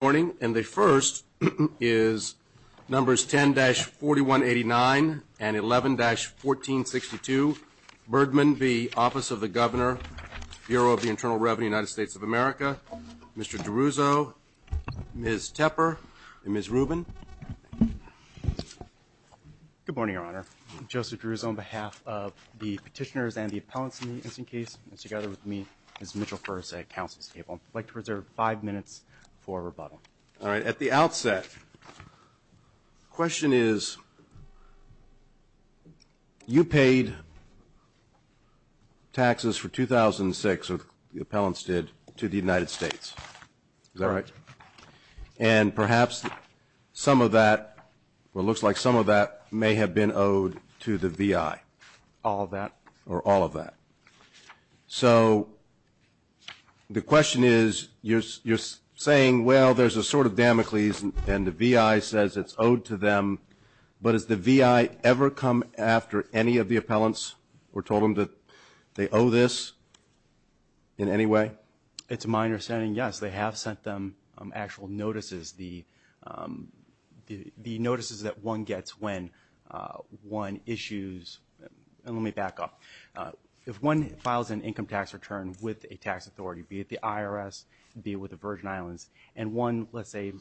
And the first is numbers 10-4189 and 11-1462. Birdman, the Office of the Governor, Bureau of the Internal Revenue, United States of America. Mr. D'Aruzzo, Ms. Tepper, and Ms. Rubin. Good morning, Your Honor. Joseph D'Aruzzo on behalf of the petitioners and the appellants in the incident case, and together with me is Mitchell Furse at counsel's table. I'd like to reserve five minutes for rebuttal. All right. At the outset, the question is, you paid taxes for 2006, or the appellants did, to the United States. Is that right? And perhaps some of that, or it looks like some of that may have been owed to the VI. All of that. Or all of that. So the question is, you're saying, well, there's a sort of Damocles, and the VI says it's owed to them, but has the VI ever come after any of the appellants or told them that they owe this in any way? It's my understanding, yes. They have sent them actual notices, the notices that one gets when one issues, and let me back up. If one files an income tax return with a tax authority, be it the IRS, be it with the Virgin Islands, and one, let's say,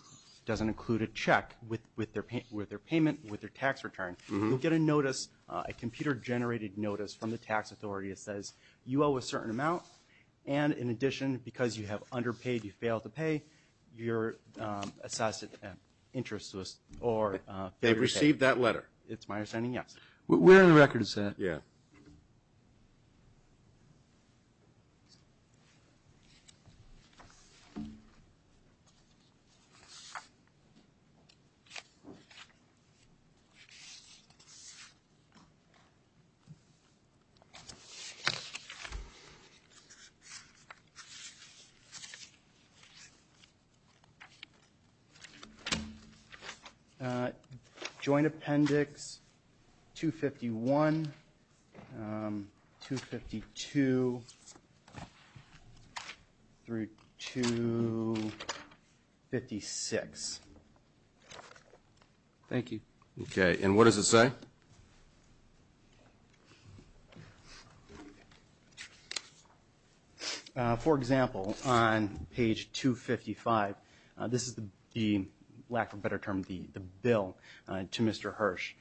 doesn't include a check with their payment, with their tax return, you'll get a notice, a computer-generated notice from the tax authority that says, you owe a certain amount, and in addition, because you have underpaid, you failed to pay, you're assessed interest or failure to pay. They've received that letter? It's my understanding, yes. We're on the record as saying, yeah. All right. Joint appendix 251, 252, through 256. Thank you. Okay, and what does it say? For example, on page 255, this is the, lack of a better term, the bill to Mr. Hirsch,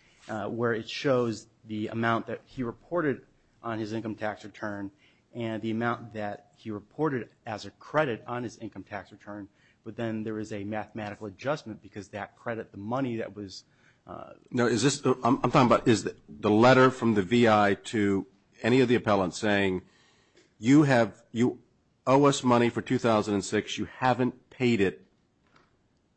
where it shows the amount that he reported on his income tax return and the amount that he reported as a credit on his income tax return, but then there is a mathematical adjustment because that credit, the money that was. No, is this, I'm talking about, is the letter from the VI to any of the appellants saying, you have, you owe us money for 2006, you haven't paid it,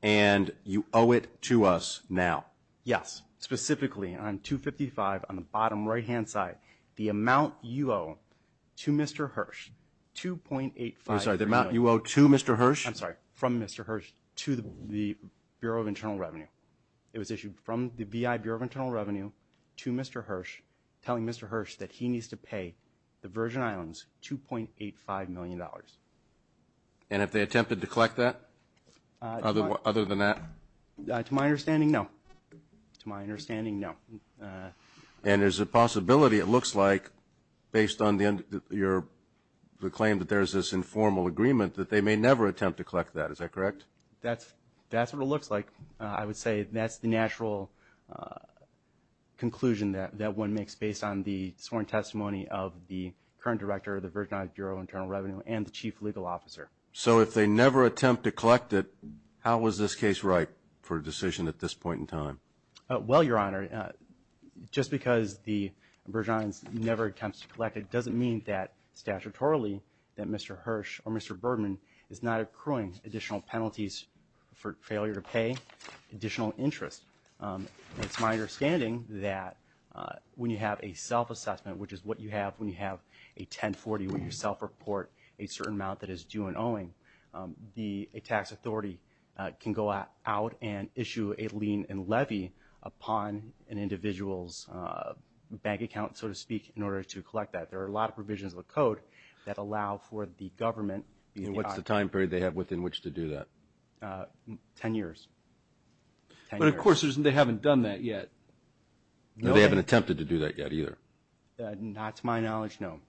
and you owe it to us now? Yes, specifically on 255 on the bottom right-hand side, the amount you owe to Mr. Hirsch, 2.85. I'm sorry, the amount you owe to Mr. Hirsch? I'm sorry, from Mr. Hirsch to the Bureau of Internal Revenue. It was issued from the VI Bureau of Internal Revenue to Mr. Hirsch, telling Mr. Hirsch that he needs to pay the Virgin Islands $2.85 million. And if they attempted to collect that, other than that? To my understanding, no. To my understanding, no. And there's a possibility, it looks like, based on your claim that there's this informal agreement, that they may never attempt to collect that, is that correct? That's what it looks like. I would say that's the natural conclusion that one makes based on the sworn testimony of the current director of the Virgin Islands Bureau of Internal Revenue and the chief legal officer. So if they never attempt to collect it, how is this case ripe for a decision at this point in time? Well, Your Honor, just because the Virgin Islands never attempts to collect it is not accruing additional penalties for failure to pay additional interest. It's my understanding that when you have a self-assessment, which is what you have when you have a 1040 where you self-report a certain amount that is due and owing, the tax authority can go out and issue a lien and levy upon an individual's bank account, so to speak, in order to collect that. There are a lot of provisions of the code that allow for the government. And what's the time period they have within which to do that? Ten years. But, of course, they haven't done that yet. No, they haven't attempted to do that yet either. Not to my knowledge, no.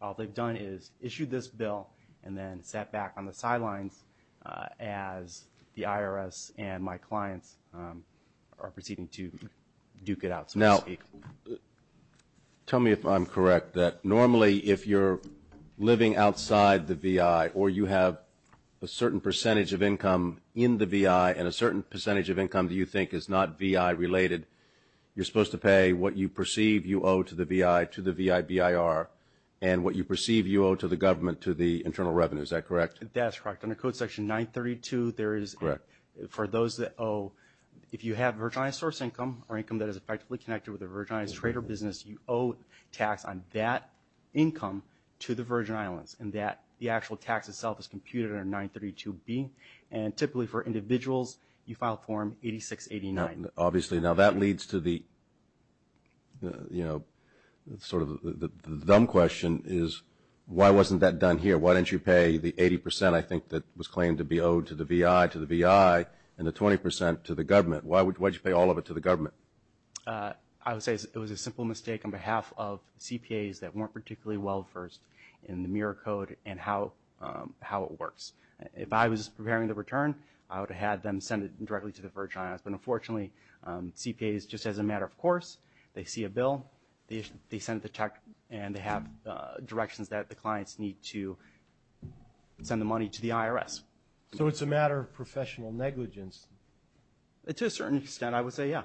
All they've done is issued this bill and then sat back on the sidelines as the IRS and my clients are proceeding to duke it out, so to speak. Tell me if I'm correct that normally if you're living outside the VI or you have a certain percentage of income in the VI and a certain percentage of income that you think is not VI-related, you're supposed to pay what you perceive you owe to the VI to the VI-BIR and what you perceive you owe to the government to the internal revenue. Is that correct? That's correct. Under Code Section 932, there is, for those that owe, if you have Virgin Islands source income or income that is effectively connected with a Virgin Islands trade or business, you owe tax on that income to the Virgin Islands and that the actual tax itself is computed under 932B. And typically for individuals, you file Form 8689. Obviously. Now, that leads to the, you know, sort of the dumb question is, why wasn't that done here? Why didn't you pay the 80 percent, I think, that was claimed to be owed to the VI to the VI and the 20 percent to the government? Why did you pay all of it to the government? I would say it was a simple mistake on behalf of CPAs that weren't particularly well-versed in the mirror code and how it works. If I was preparing the return, I would have had them send it directly to the Virgin Islands. But unfortunately, CPAs, just as a matter of course, they see a bill, they send the check, So it's a matter of professional negligence. To a certain extent, I would say, yeah.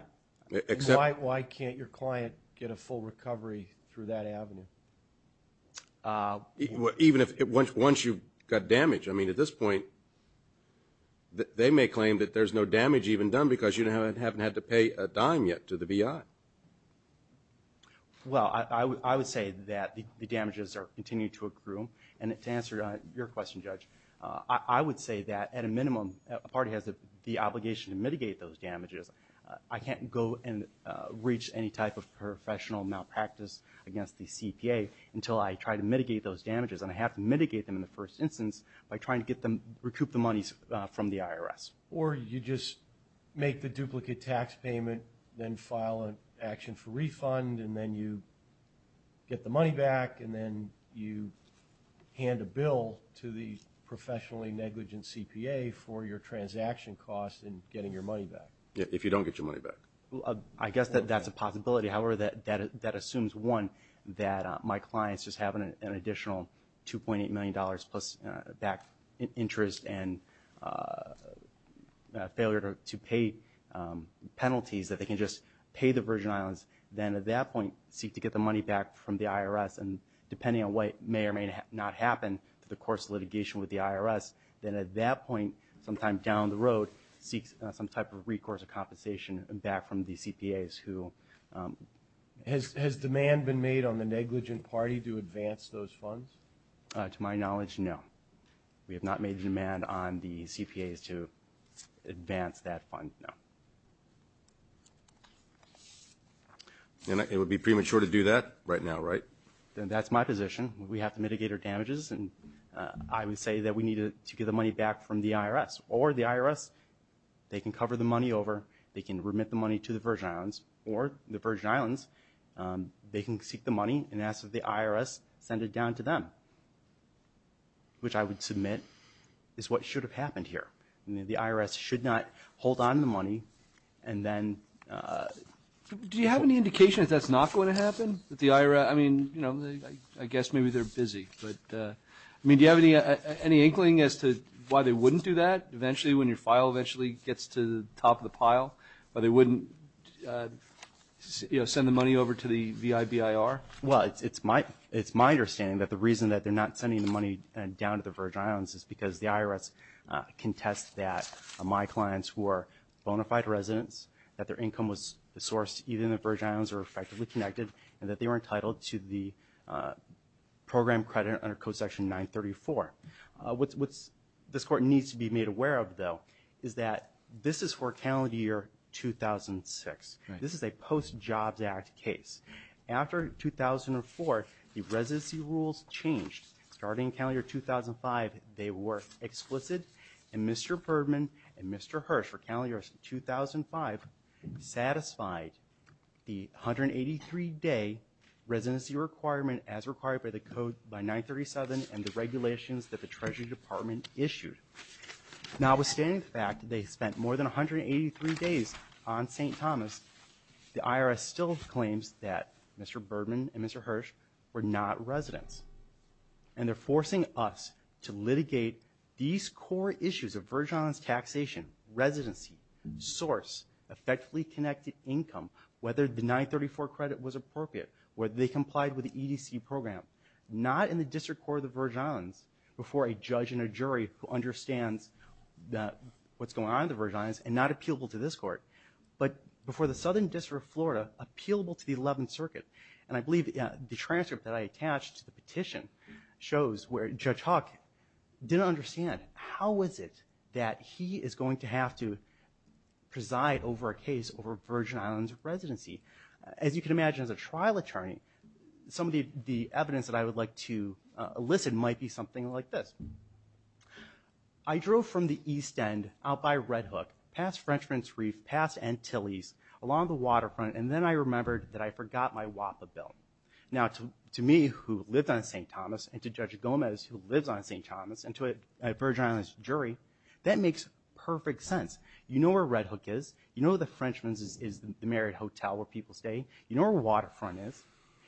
Why can't your client get a full recovery through that avenue? Even if once you've got damage, I mean, at this point, they may claim that there's no damage even done because you haven't had to pay a dime yet to the VI. Well, I would say that the damages continue to accrue. And to answer your question, Judge, I would say that at a minimum, a party has the obligation to mitigate those damages. I can't go and reach any type of professional malpractice against the CPA until I try to mitigate those damages. And I have to mitigate them in the first instance by trying to recoup the monies from the IRS. Or you just make the duplicate tax payment, then file an action for refund, and then you get the money back, and then you hand a bill to the professionally negligent CPA for your transaction costs in getting your money back. If you don't get your money back. I guess that that's a possibility. However, that assumes, one, that my client's just having an additional $2.8 million plus back interest and failure to pay penalties that they can just pay the Virgin Islands, then at that point seek to get the money back from the IRS and depending on what may or may not happen to the course of litigation with the IRS, then at that point sometime down the road, seek some type of recourse or compensation back from the CPAs who... Has demand been made on the negligent party to advance those funds? To my knowledge, no. We have not made demand on the CPAs to advance that fund, no. And it would be premature to do that right now, right? That's my position. We have to mitigate our damages, and I would say that we need to get the money back from the IRS, or the IRS, they can cover the money over, they can remit the money to the Virgin Islands, or the Virgin Islands, they can seek the money and ask that the IRS send it down to them, which I would submit is what should have happened here. The IRS should not hold on to the money and then... Do you have any indication that that's not going to happen? I mean, I guess maybe they're busy, but... I mean, do you have any inkling as to why they wouldn't do that? Eventually, when your file eventually gets to the top of the pile, why they wouldn't send the money over to the VIBIR? Well, it's my understanding that the reason that they're not sending the money down to the Virgin Islands is because the IRS contests that my clients were bona fide residents, that their income was sourced even if the Virgin Islands were effectively connected, and that they were entitled to the program credit under Code Section 934. What this Court needs to be made aware of, though, is that this is for calendar year 2006. This is a post-Jobs Act case. After 2004, the residency rules changed. Starting calendar year 2005, they were explicit, and Mr. Bergman and Mr. Hirsch for calendar year 2005 satisfied the 183-day residency requirement as required by the Code by 937 and the regulations that the Treasury Department issued. Notwithstanding the fact that they spent more than 183 days on St. Thomas, the IRS still claims that Mr. Bergman and Mr. Hirsch were not residents, and they're forcing us to litigate these core issues of Virgin Islands taxation, residency, source, effectively connected income, whether the 934 credit was appropriate, whether they complied with the EDC program, not in the District Court of the Virgin Islands before a judge and a jury who understands what's going on in the Virgin Islands and not appealable to this Court, but before the Southern District of Florida, appealable to the 11th Circuit. And I believe the transcript that I attached to the petition shows where Judge Huck didn't understand how is it that he is going to have to preside over a case over Virgin Islands residency. As you can imagine, as a trial attorney, some of the evidence that I would like to elicit might be something like this. I drove from the East End out by Red Hook, past Frenchman's Reef, past Antilles, along the waterfront, and then I remembered that I forgot my WAPA bill. Now, to me, who lived on St. Thomas, and to Judge Gomez, who lives on St. Thomas, and to a Virgin Islands jury, that makes perfect sense. You know where Red Hook is, you know the Frenchman's is the married hotel where people stay, you know where Waterfront is,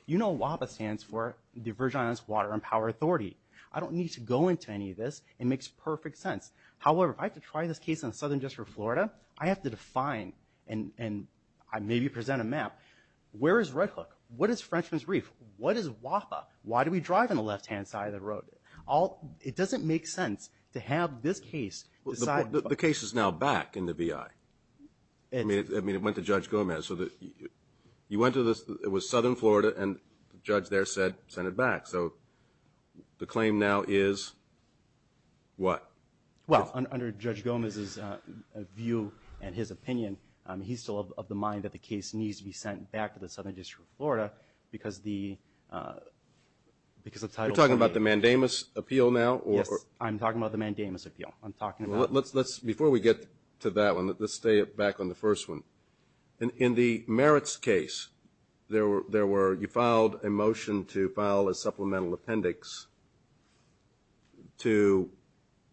you know WAPA stands for the Virgin Islands Water and Power Authority. I don't need to go into any of this. It makes perfect sense. However, if I have to try this case on Southern District of Florida, I have to define and maybe present a map. Where is Red Hook? What is Frenchman's Reef? What is WAPA? Why do we drive on the left-hand side of the road? It doesn't make sense to have this case decide. The case is now back in the VI. I mean, it went to Judge Gomez. It was Southern Florida, and the judge there said, send it back. So the claim now is what? Well, under Judge Gomez's view and his opinion, he's still of the mind that the case needs to be sent back to the Southern District of Florida because the title. You're talking about the mandamus appeal now? Yes, I'm talking about the mandamus appeal. Before we get to that one, let's stay back on the first one. In the merits case, you filed a motion to file a supplemental appendix to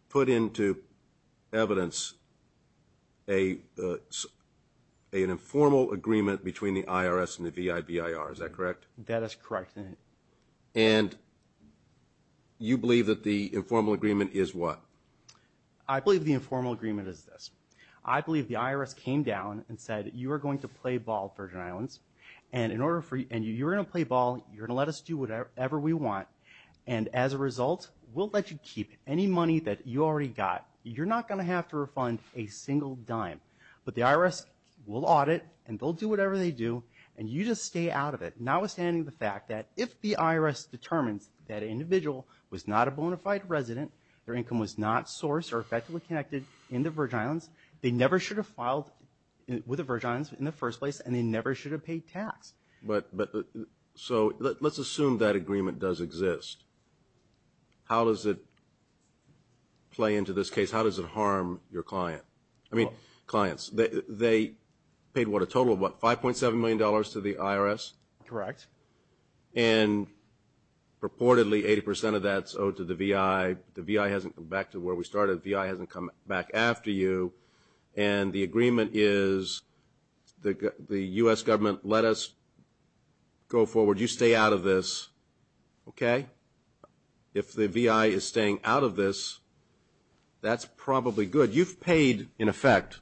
put into evidence an informal agreement between the IRS and the VI-VIR. Is that correct? That is correct. And you believe that the informal agreement is what? I believe the informal agreement is this. I believe the IRS came down and said, you are going to play ball, Virgin Islands. And you're going to play ball. You're going to let us do whatever we want. And as a result, we'll let you keep any money that you already got. You're not going to have to refund a single dime. But the IRS will audit, and they'll do whatever they do, and you just stay out of it, notwithstanding the fact that if the IRS determines that an individual was not a bona fide resident, their income was not sourced or effectively connected in the Virgin Islands, they never should have filed with the Virgin Islands in the first place, and they never should have paid tax. But so let's assume that agreement does exist. How does it play into this case? How does it harm your client? I mean clients. They paid what, a total of what, $5.7 million to the IRS? Correct. And purportedly 80% of that's owed to the VI. The VI hasn't come back to where we started. The VI hasn't come back after you. And the agreement is the U.S. government let us go forward. You stay out of this. Okay? If the VI is staying out of this, that's probably good. So you've paid, in effect,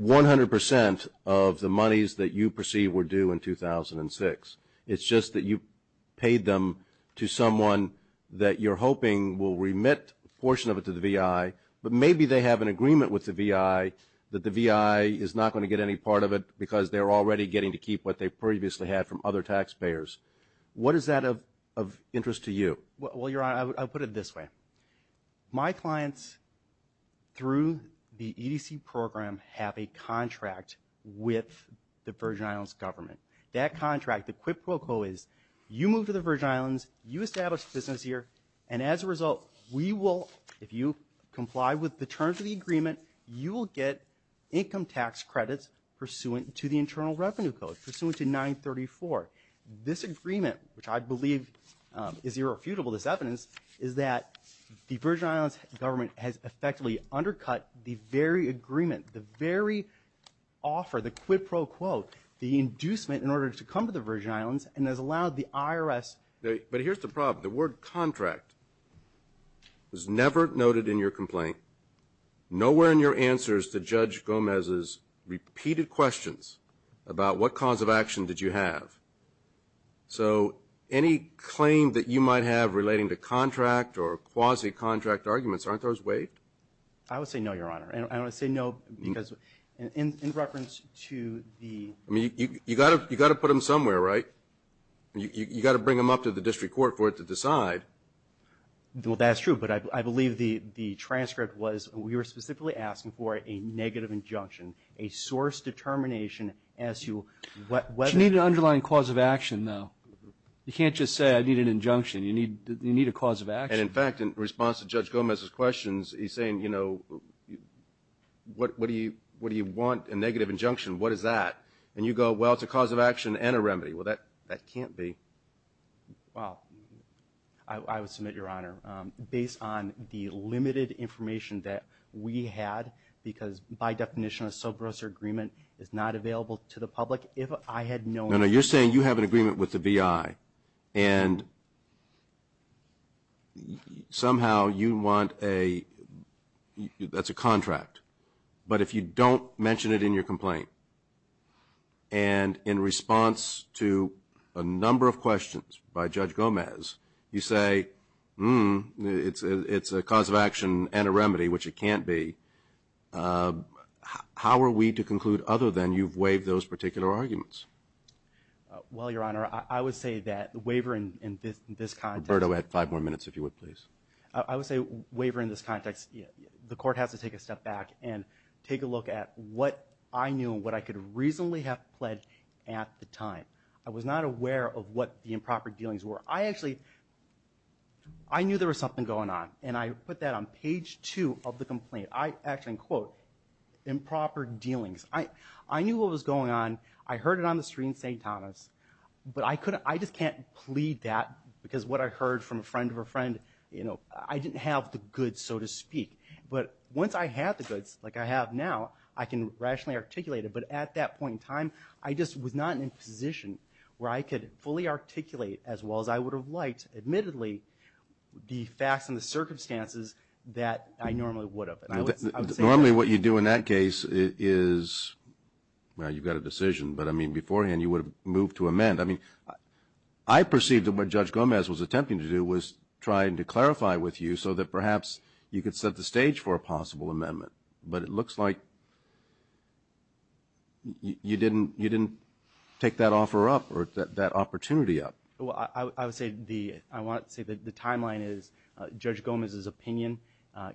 100% of the monies that you perceive were due in 2006. It's just that you paid them to someone that you're hoping will remit a portion of it to the VI, but maybe they have an agreement with the VI that the VI is not going to get any part of it because they're already getting to keep what they previously had from other taxpayers. What is that of interest to you? Well, Your Honor, I'll put it this way. My clients, through the EDC program, have a contract with the Virgin Islands government. That contract, the quid pro quo is you move to the Virgin Islands, you establish business here, and as a result, we will, if you comply with the terms of the agreement, you will get income tax credits pursuant to the Internal Revenue Code, pursuant to 934. This agreement, which I believe is irrefutable, this evidence, is that the Virgin Islands government has effectively undercut the very agreement, the very offer, the quid pro quo, the inducement in order to come to the Virgin Islands, and has allowed the IRS. But here's the problem. The word contract was never noted in your complaint. Nowhere in your answer is the Judge Gomez's repeated questions about what cause of action did you have. So any claim that you might have relating to contract or quasi-contract arguments, aren't those waived? I would say no, Your Honor. I would say no because in reference to the... I mean, you've got to put them somewhere, right? You've got to bring them up to the district court for it to decide. Well, that's true. But I believe the transcript was we were specifically asking for a negative injunction, a source determination as to whether... You need an underlying cause of action, though. You can't just say I need an injunction. You need a cause of action. And, in fact, in response to Judge Gomez's questions, he's saying, you know, what do you want, a negative injunction, what is that? And you go, well, it's a cause of action and a remedy. Well, that can't be. Well, I would submit, Your Honor, based on the limited information that we had because, by definition, a sobriety agreement is not available to the public, if I had known... No, no, you're saying you have an agreement with the VI and somehow you want a...that's a contract. But if you don't mention it in your complaint and in response to a number of questions by Judge Gomez, you say, hmm, it's a cause of action and a remedy, which it can't be, how are we to conclude other than you've waived those particular arguments? Well, Your Honor, I would say that wavering in this context... Roberto, add five more minutes, if you would, please. I would say wavering in this context, the court has to take a step back and take a look at what I knew and what I could reasonably have pledged at the time. I was not aware of what the improper dealings were. I actually...I knew there was something going on, and I put that on page two of the complaint. I actually, in quote, improper dealings. I knew what was going on. I heard it on the screen, St. Thomas. But I just can't plead that because what I heard from a friend of a friend, you know, I didn't have the goods, so to speak. But once I had the goods, like I have now, I can rationally articulate it. But at that point in time, I just was not in a position where I could fully articulate as well as I would have liked, admittedly, the facts and the circumstances that I normally would have. Normally what you do in that case is, well, you've got a decision, but, I mean, beforehand you would have moved to amend. I mean, I perceived that what Judge Gomez was attempting to do was trying to clarify with you so that perhaps you could set the stage for a possible amendment. But it looks like you didn't take that offer up or that opportunity up. Well, I would say the timeline is Judge Gomez's opinion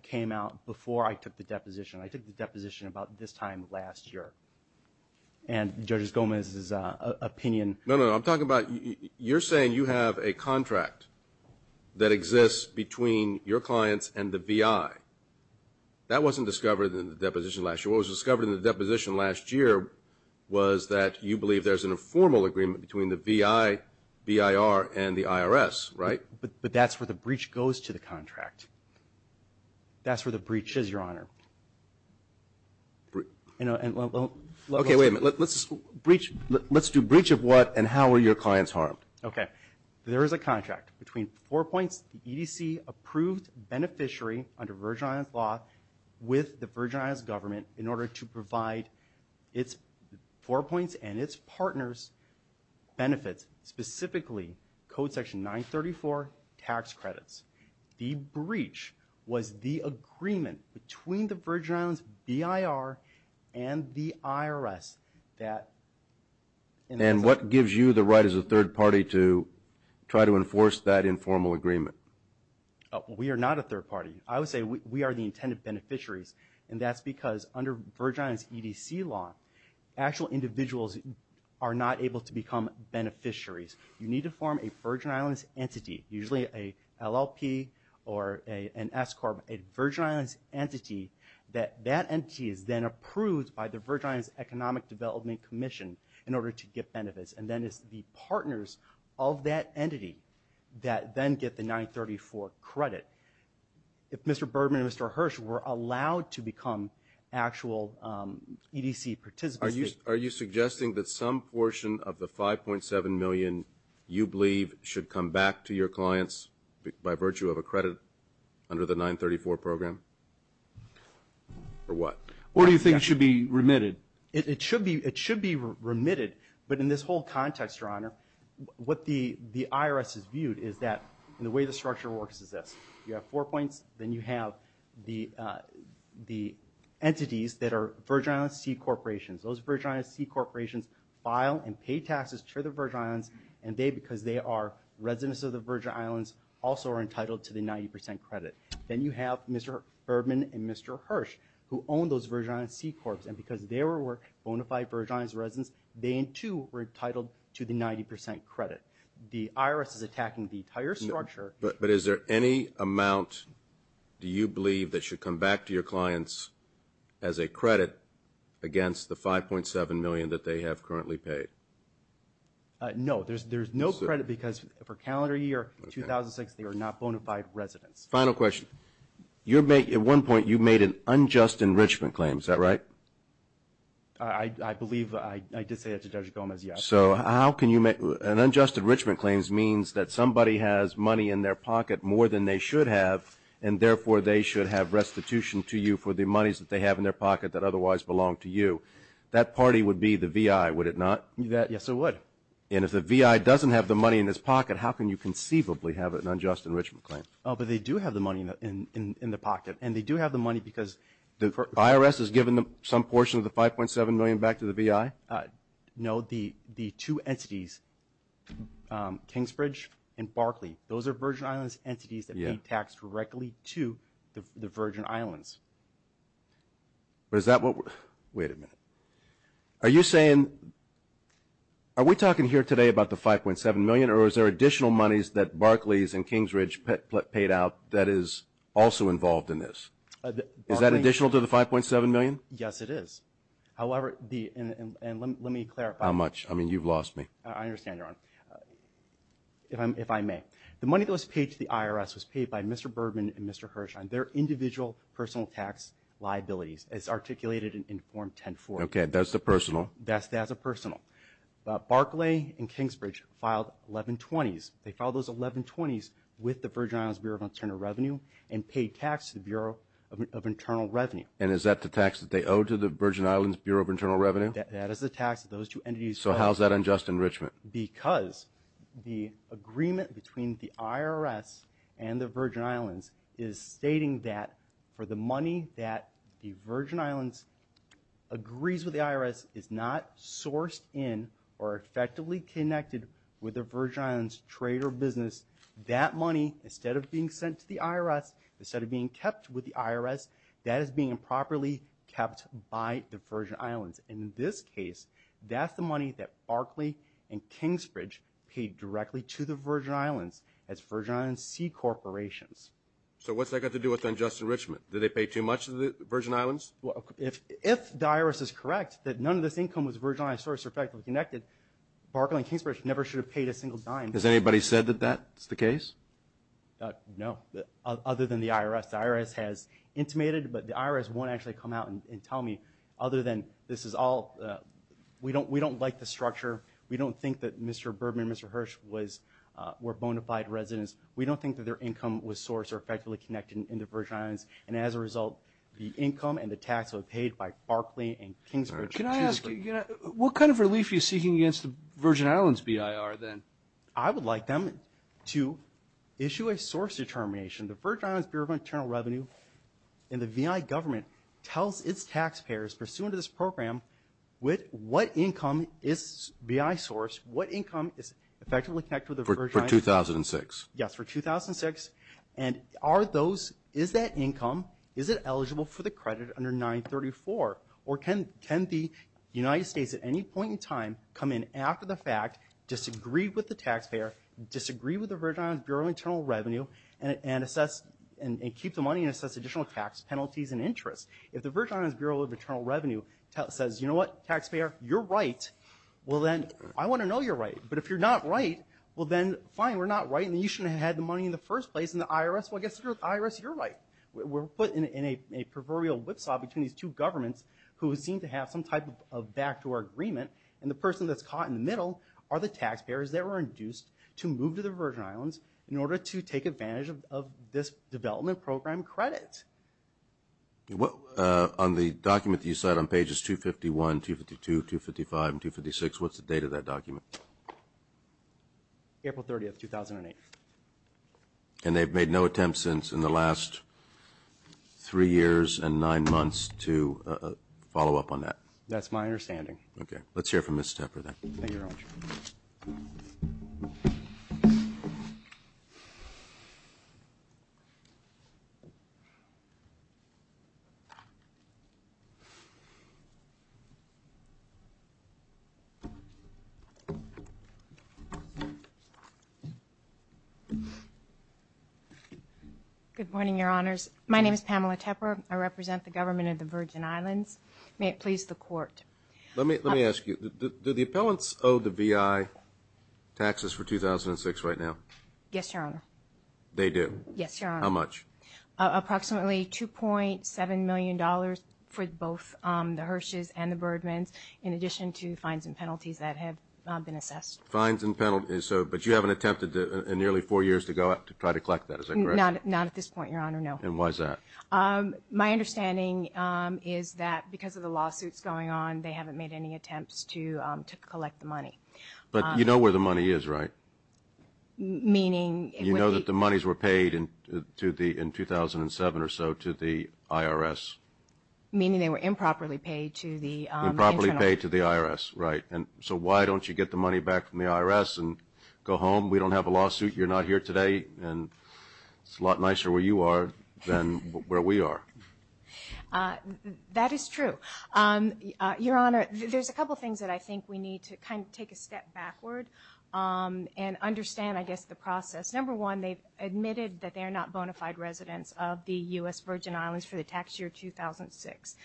came out before I took the deposition. I took the deposition about this time last year. And Judge Gomez's opinion... No, no, no. I'm talking about you're saying you have a contract that exists between your clients and the VI. That wasn't discovered in the deposition last year. What was discovered in the deposition last year was that you believe there's an informal agreement between the VI, BIR, and the IRS, right? But that's where the breach goes to the contract. That's where the breach is, Your Honor. Okay, wait a minute. Let's do breach of what and how are your clients harmed? Okay. There is a contract between Four Points, the EDC-approved beneficiary under Virgin Islands law with the Virgin Islands government in order to provide Four Points and its partners benefits, specifically Code Section 934 tax credits. The breach was the agreement between the Virgin Islands, BIR, and the IRS that... And what gives you the right as a third party to try to enforce that informal agreement? We are not a third party. I would say we are the intended beneficiaries, and that's because under Virgin Islands EDC law, actual individuals are not able to become beneficiaries. You need to form a Virgin Islands entity, usually a LLP or an S-Corp, a Virgin Islands entity that that entity is then approved by the Virgin Islands Economic Development Commission in order to get benefits, and then it's the partners of that entity that then get the 934 credit. If Mr. Bergman and Mr. Hirsch were allowed to become actual EDC participants... You believe should come back to your clients by virtue of a credit under the 934 program? Or what? Or do you think it should be remitted? It should be remitted, but in this whole context, Your Honor, what the IRS has viewed is that the way the structure works is this. You have Four Points, then you have the entities that are Virgin Islands C-Corporations. Those Virgin Islands C-Corporations file and pay taxes to the Virgin Islands, and they, because they are residents of the Virgin Islands, also are entitled to the 90 percent credit. Then you have Mr. Bergman and Mr. Hirsch, who own those Virgin Islands C-Corps, and because they were bona fide Virgin Islands residents, they too were entitled to the 90 percent credit. The IRS is attacking the entire structure... But is there any amount, do you believe, that should come back to your clients as a credit against the $5.7 million that they have currently paid? No. There's no credit because for calendar year 2006, they were not bona fide residents. Final question. At one point, you made an unjust enrichment claim. Is that right? I believe I did say that to Judge Gomez, yes. So how can you make... An unjust enrichment claim means that somebody has money in their pocket more than they should have, and therefore they should have restitution to you for the monies that they have in their pocket that otherwise belong to you. That party would be the VI, would it not? Yes, it would. And if the VI doesn't have the money in his pocket, how can you conceivably have an unjust enrichment claim? But they do have the money in the pocket, and they do have the money because... The IRS has given some portion of the $5.7 million back to the VI? No. The two entities, Kingsbridge and Barclay, those are Virgin Islands entities that pay tax directly to the Virgin Islands. But is that what we're... Wait a minute. Are you saying... Are we talking here today about the $5.7 million, or is there additional monies that Barclay's and Kingsbridge paid out that is also involved in this? Is that additional to the $5.7 million? Yes, it is. However, the... How much? I mean, you've lost me. I understand, Your Honor. If I may. The money that was paid to the IRS was paid by Mr. Bergman and Mr. Hirshheim, their individual personal tax liabilities, as articulated in Form 10-4. Okay. That's the personal? That's the personal. Barclay and Kingsbridge filed 1120s. They filed those 1120s with the Virgin Islands Bureau of Internal Revenue and paid tax to the Bureau of Internal Revenue. And is that the tax that they owe to the Virgin Islands Bureau of Internal Revenue? That is the tax that those two entities... So how is that unjust enrichment? Because the agreement between the IRS and the Virgin Islands is stating that for the money that the Virgin Islands agrees with the IRS is not sourced in or effectively connected with the Virgin Islands trade or business, that money, instead of being sent to the IRS, instead of being kept with the IRS, that is being improperly kept by the Virgin Islands. And in this case, that's the money that Barclay and Kingsbridge paid directly to the Virgin Islands as Virgin Islands C-corporations. So what's that got to do with unjust enrichment? Did they pay too much to the Virgin Islands? If the IRS is correct that none of this income was Virgin Islands-sourced or effectively connected, Barclay and Kingsbridge never should have paid a single dime. Has anybody said that that's the case? No. Other than the IRS. The IRS has intimated, but the IRS won't actually come out and tell me other than this is all we don't like the structure. We don't think that Mr. Bergman and Mr. Hirsch were bona fide residents. We don't think that their income was sourced or effectively connected into Virgin Islands. And as a result, the income and the tax was paid by Barclay and Kingsbridge. Can I ask you, what kind of relief are you seeking against the Virgin Islands BIR then? I would like them to issue a source determination. The Virgin Islands Bureau of Internal Revenue and the VI government tells its taxpayers pursuant to this program what income is VI-sourced, what income is effectively connected with the Virgin Islands. For 2006. Yes, for 2006. And are those, is that income, is it eligible for the credit under 934? Or can the United States at any point in time come in after the fact, disagree with the taxpayer, disagree with the Virgin Islands Bureau of Internal Revenue, and keep the money and assess additional tax penalties and interest? If the Virgin Islands Bureau of Internal Revenue says, you know what, taxpayer, you're right, well then, I want to know you're right. But if you're not right, well then, fine, we're not right, and you shouldn't have had the money in the first place. And the IRS, well, I guess the IRS, you're right. We're put in a proverbial whipsaw between these two governments who seem to have some type of backdoor agreement, and the person that's caught in the middle are the taxpayers that were induced to move to the Virgin Islands in order to take advantage of this development program credit. On the document that you cite on pages 251, 252, 255, and 256, what's the date of that document? April 30th, 2008. And they've made no attempts since in the last three years and nine months to follow up on that? That's my understanding. Okay. Let's hear from Ms. Tepper then. Thank you, Your Honor. Good morning, Your Honors. My name is Pamela Tepper. I represent the government of the Virgin Islands. May it please the Court. Let me ask you, do the appellants owe the VI taxes for 2006 right now? Yes, Your Honor. They do? Yes, Your Honor. How much? Approximately $2.7 million for both the Hersh's and the Birdman's, in addition to fines and penalties that have been assessed. Fines and penalties. But you haven't attempted in nearly four years to try to collect that, is that correct? Not at this point, Your Honor, no. And why is that? My understanding is that because of the lawsuits going on, they haven't made any attempts to collect the money. But you know where the money is, right? Meaning? You know that the monies were paid in 2007 or so to the IRS? Meaning they were improperly paid to the internal? Improperly paid to the IRS, right. And so why don't you get the money back from the IRS and go home? We don't have a lawsuit. You're not here today. And it's a lot nicer where you are than where we are. That is true. Your Honor, there's a couple things that I think we need to kind of take a step backward and understand, I guess, the process. Number one, they've admitted that they're not bona fide residents of the U.S. Virgin Islands for the tax year 2006.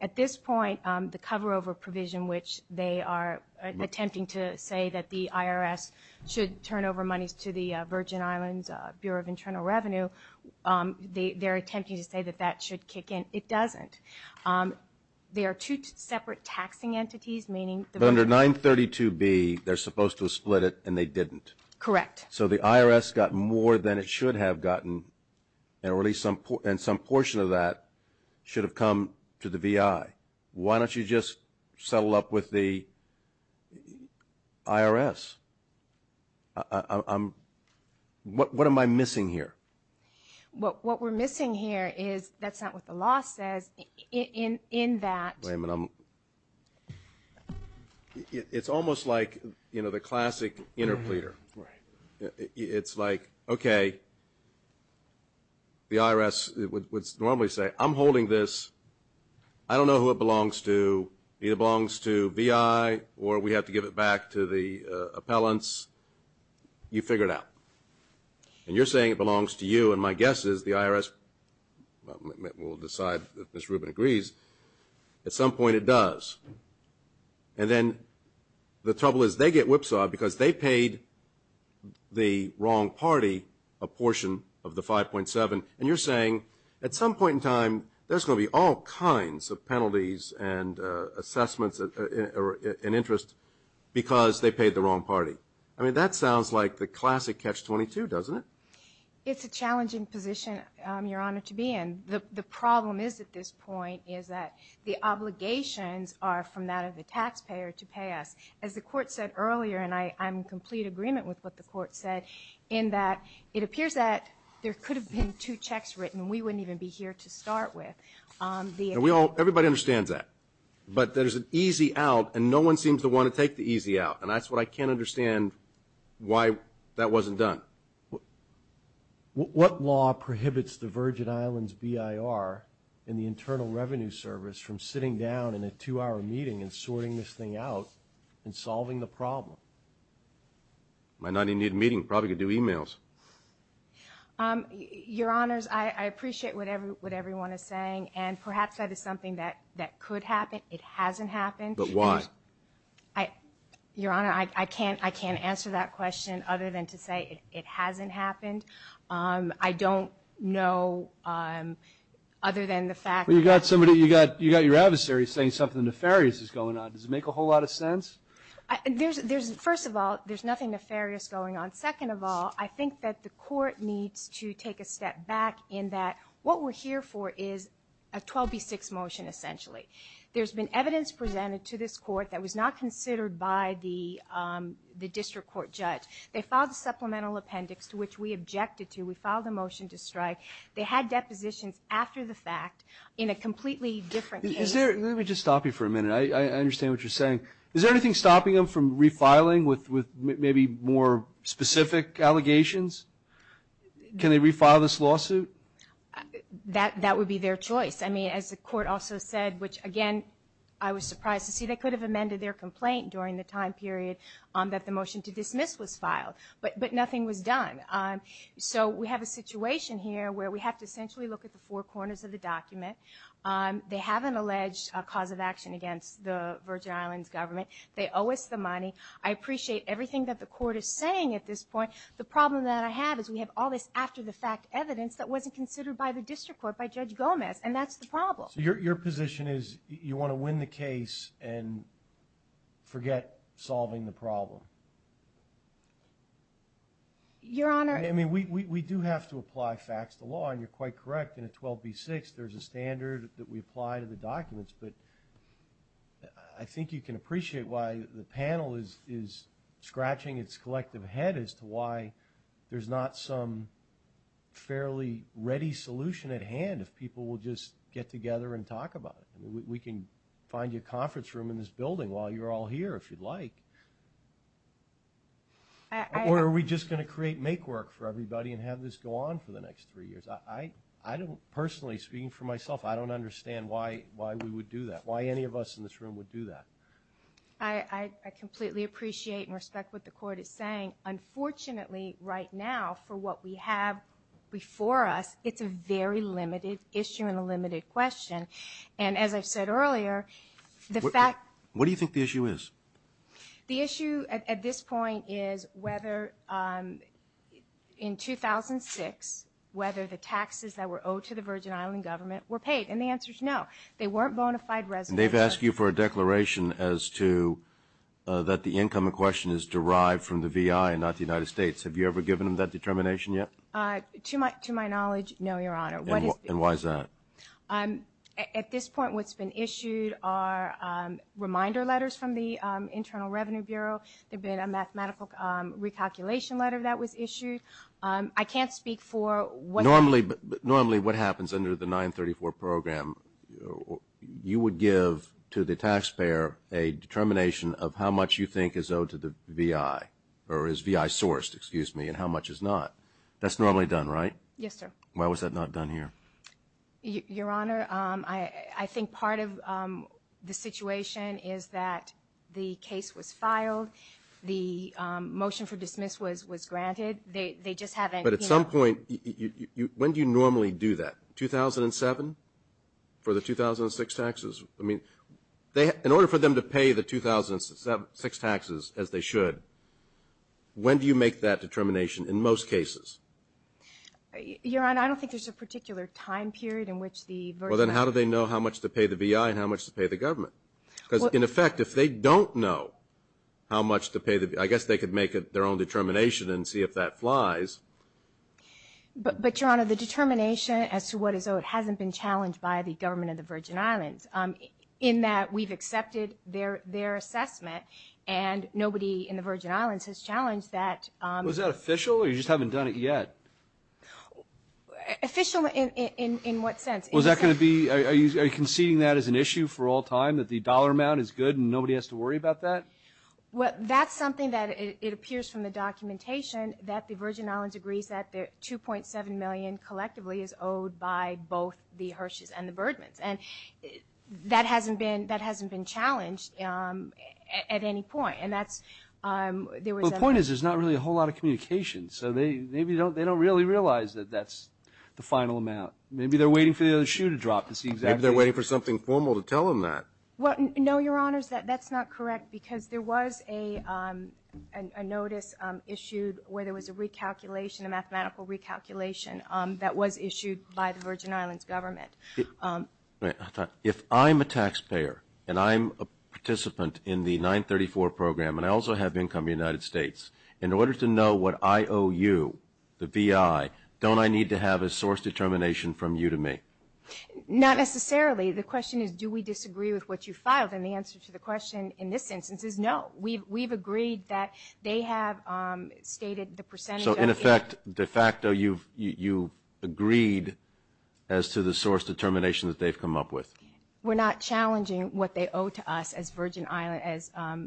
At this point, the cover-over provision, which they are attempting to say that the IRS should turn over monies to the Virgin Islands Bureau of Internal Revenue, they're attempting to say that that should kick in. It doesn't. They are two separate taxing entities, meaning the Virgin Islands. But under 932B, they're supposed to have split it, and they didn't. Correct. So the IRS got more than it should have gotten, and some portion of that should have come to the VI. Why don't you just settle up with the IRS? What am I missing here? What we're missing here is that's not what the law says in that. Wait a minute. It's almost like, you know, the classic interpleader. Right. It's like, okay, the IRS would normally say, I'm holding this. I don't know who it belongs to. It belongs to VI, or we have to give it back to the appellants. You figure it out. And you're saying it belongs to you, and my guess is the IRS will decide that Ms. Rubin agrees. At some point, it does. And then the trouble is they get whipsawed because they paid the wrong party a portion of the 5.7, and you're saying at some point in time there's going to be all kinds of penalties and assessments and interest because they paid the wrong party. I mean, that sounds like the classic catch-22, doesn't it? It's a challenging position, Your Honor, to be in. The problem is at this point is that the obligations are from that of the taxpayer to pay us. As the Court said earlier, and I'm in complete agreement with what the Court said, in that it appears that there could have been two checks written. We wouldn't even be here to start with. Everybody understands that. But there's an easy out, and no one seems to want to take the easy out, and that's what I can't understand why that wasn't done. What law prohibits the Virgin Islands BIR and the Internal Revenue Service from sitting down in a two-hour meeting and sorting this thing out and solving the problem? Might not even need a meeting. Probably could do e-mails. Your Honors, I appreciate what everyone is saying, and perhaps that is something that could happen. It hasn't happened. But why? Your Honor, I can't answer that question other than to say it hasn't happened. I don't know other than the fact that you've got your adversary saying something nefarious is going on. Does it make a whole lot of sense? First of all, there's nothing nefarious going on. Second of all, I think that the court needs to take a step back in that what we're here for is a 12B6 motion, essentially. There's been evidence presented to this court that was not considered by the district court judge. They filed a supplemental appendix to which we objected to. We filed a motion to strike. They had depositions after the fact in a completely different case. Let me just stop you for a minute. I understand what you're saying. Is there anything stopping them from refiling with maybe more specific allegations? Can they refile this lawsuit? That would be their choice. I mean, as the court also said, which, again, I was surprised to see. They could have amended their complaint during the time period that the motion to dismiss was filed. But nothing was done. So we have a situation here where we have to essentially look at the four corners of the document. They have an alleged cause of action against the Virgin Islands government. They owe us the money. I appreciate everything that the court is saying at this point. The problem that I have is we have all this after-the-fact evidence that wasn't considered by the district court, by Judge Gomez, and that's the problem. So your position is you want to win the case and forget solving the problem? Your Honor. I mean, we do have to apply facts to law, and you're quite correct. In a 12b-6, there's a standard that we apply to the documents. But I think you can appreciate why the panel is scratching its collective head as to why there's not some fairly ready solution at hand if people will just get together and talk about it. We can find you a conference room in this building while you're all here if you'd like. Or are we just going to create make-work for everybody and have this go on for the next three years? I don't personally, speaking for myself, I don't understand why we would do that, why any of us in this room would do that. I completely appreciate and respect what the court is saying. Unfortunately, right now, for what we have before us, it's a very limited issue and a limited question. And as I've said earlier, the fact that the issue at this point is whether in 2006, whether the taxes that were owed to the Virgin Island government were paid, and the answer is no. They weren't bona fide residents. And they've asked you for a declaration as to that the income in question is derived from the VI and not the United States. Have you ever given them that determination yet? To my knowledge, no, Your Honor. And why is that? At this point, what's been issued are reminder letters from the Internal Revenue Bureau. There's been a mathematical recalculation letter that was issued. I can't speak for what happens under the 934 program. You would give to the taxpayer a determination of how much you think is owed to the VI, or is VI sourced, excuse me, and how much is not. That's normally done, right? Yes, sir. Why was that not done here? Your Honor, I think part of the situation is that the case was filed. The motion for dismissal was granted. They just haven't, you know. But at some point, when do you normally do that? 2007 for the 2006 taxes? I mean, in order for them to pay the 2006 taxes as they should, when do you make that determination in most cases? Your Honor, I don't think there's a particular time period in which the Virgin Island. Well, then how do they know how much to pay the VI and how much to pay the government? Because, in effect, if they don't know how much to pay the VI, I guess they could make their own determination and see if that flies. But, Your Honor, the determination as to what is owed hasn't been challenged by the government of the Virgin Islands, in that we've accepted their assessment, and nobody in the Virgin Islands has challenged that. Was that official, or you just haven't done it yet? Official in what sense? Was that going to be, are you conceding that as an issue for all time, that the dollar amount is good and nobody has to worry about that? Well, that's something that appears from the documentation, that the Virgin Islands agrees that the $2.7 million collectively is owed by both the Hersh's and the Birdman's. And that hasn't been challenged at any point. The point is there's not really a whole lot of communication, so maybe they don't really realize that that's the final amount. Maybe they're waiting for the other shoe to drop to see exactly. Maybe they're waiting for something formal to tell them that. Well, no, Your Honors, that's not correct, because there was a notice issued where there was a recalculation, a mathematical recalculation that was issued by the Virgin Islands government. If I'm a taxpayer and I'm a participant in the 934 program, and I also have income in the United States, in order to know what I owe you, the VI, don't I need to have a source determination from you to me? Not necessarily. The question is, do we disagree with what you filed? And the answer to the question in this instance is no. We've agreed that they have stated the percentage of their – So, in effect, de facto, you've agreed as to the source determination that they've come up with? We're not challenging what they owe to us as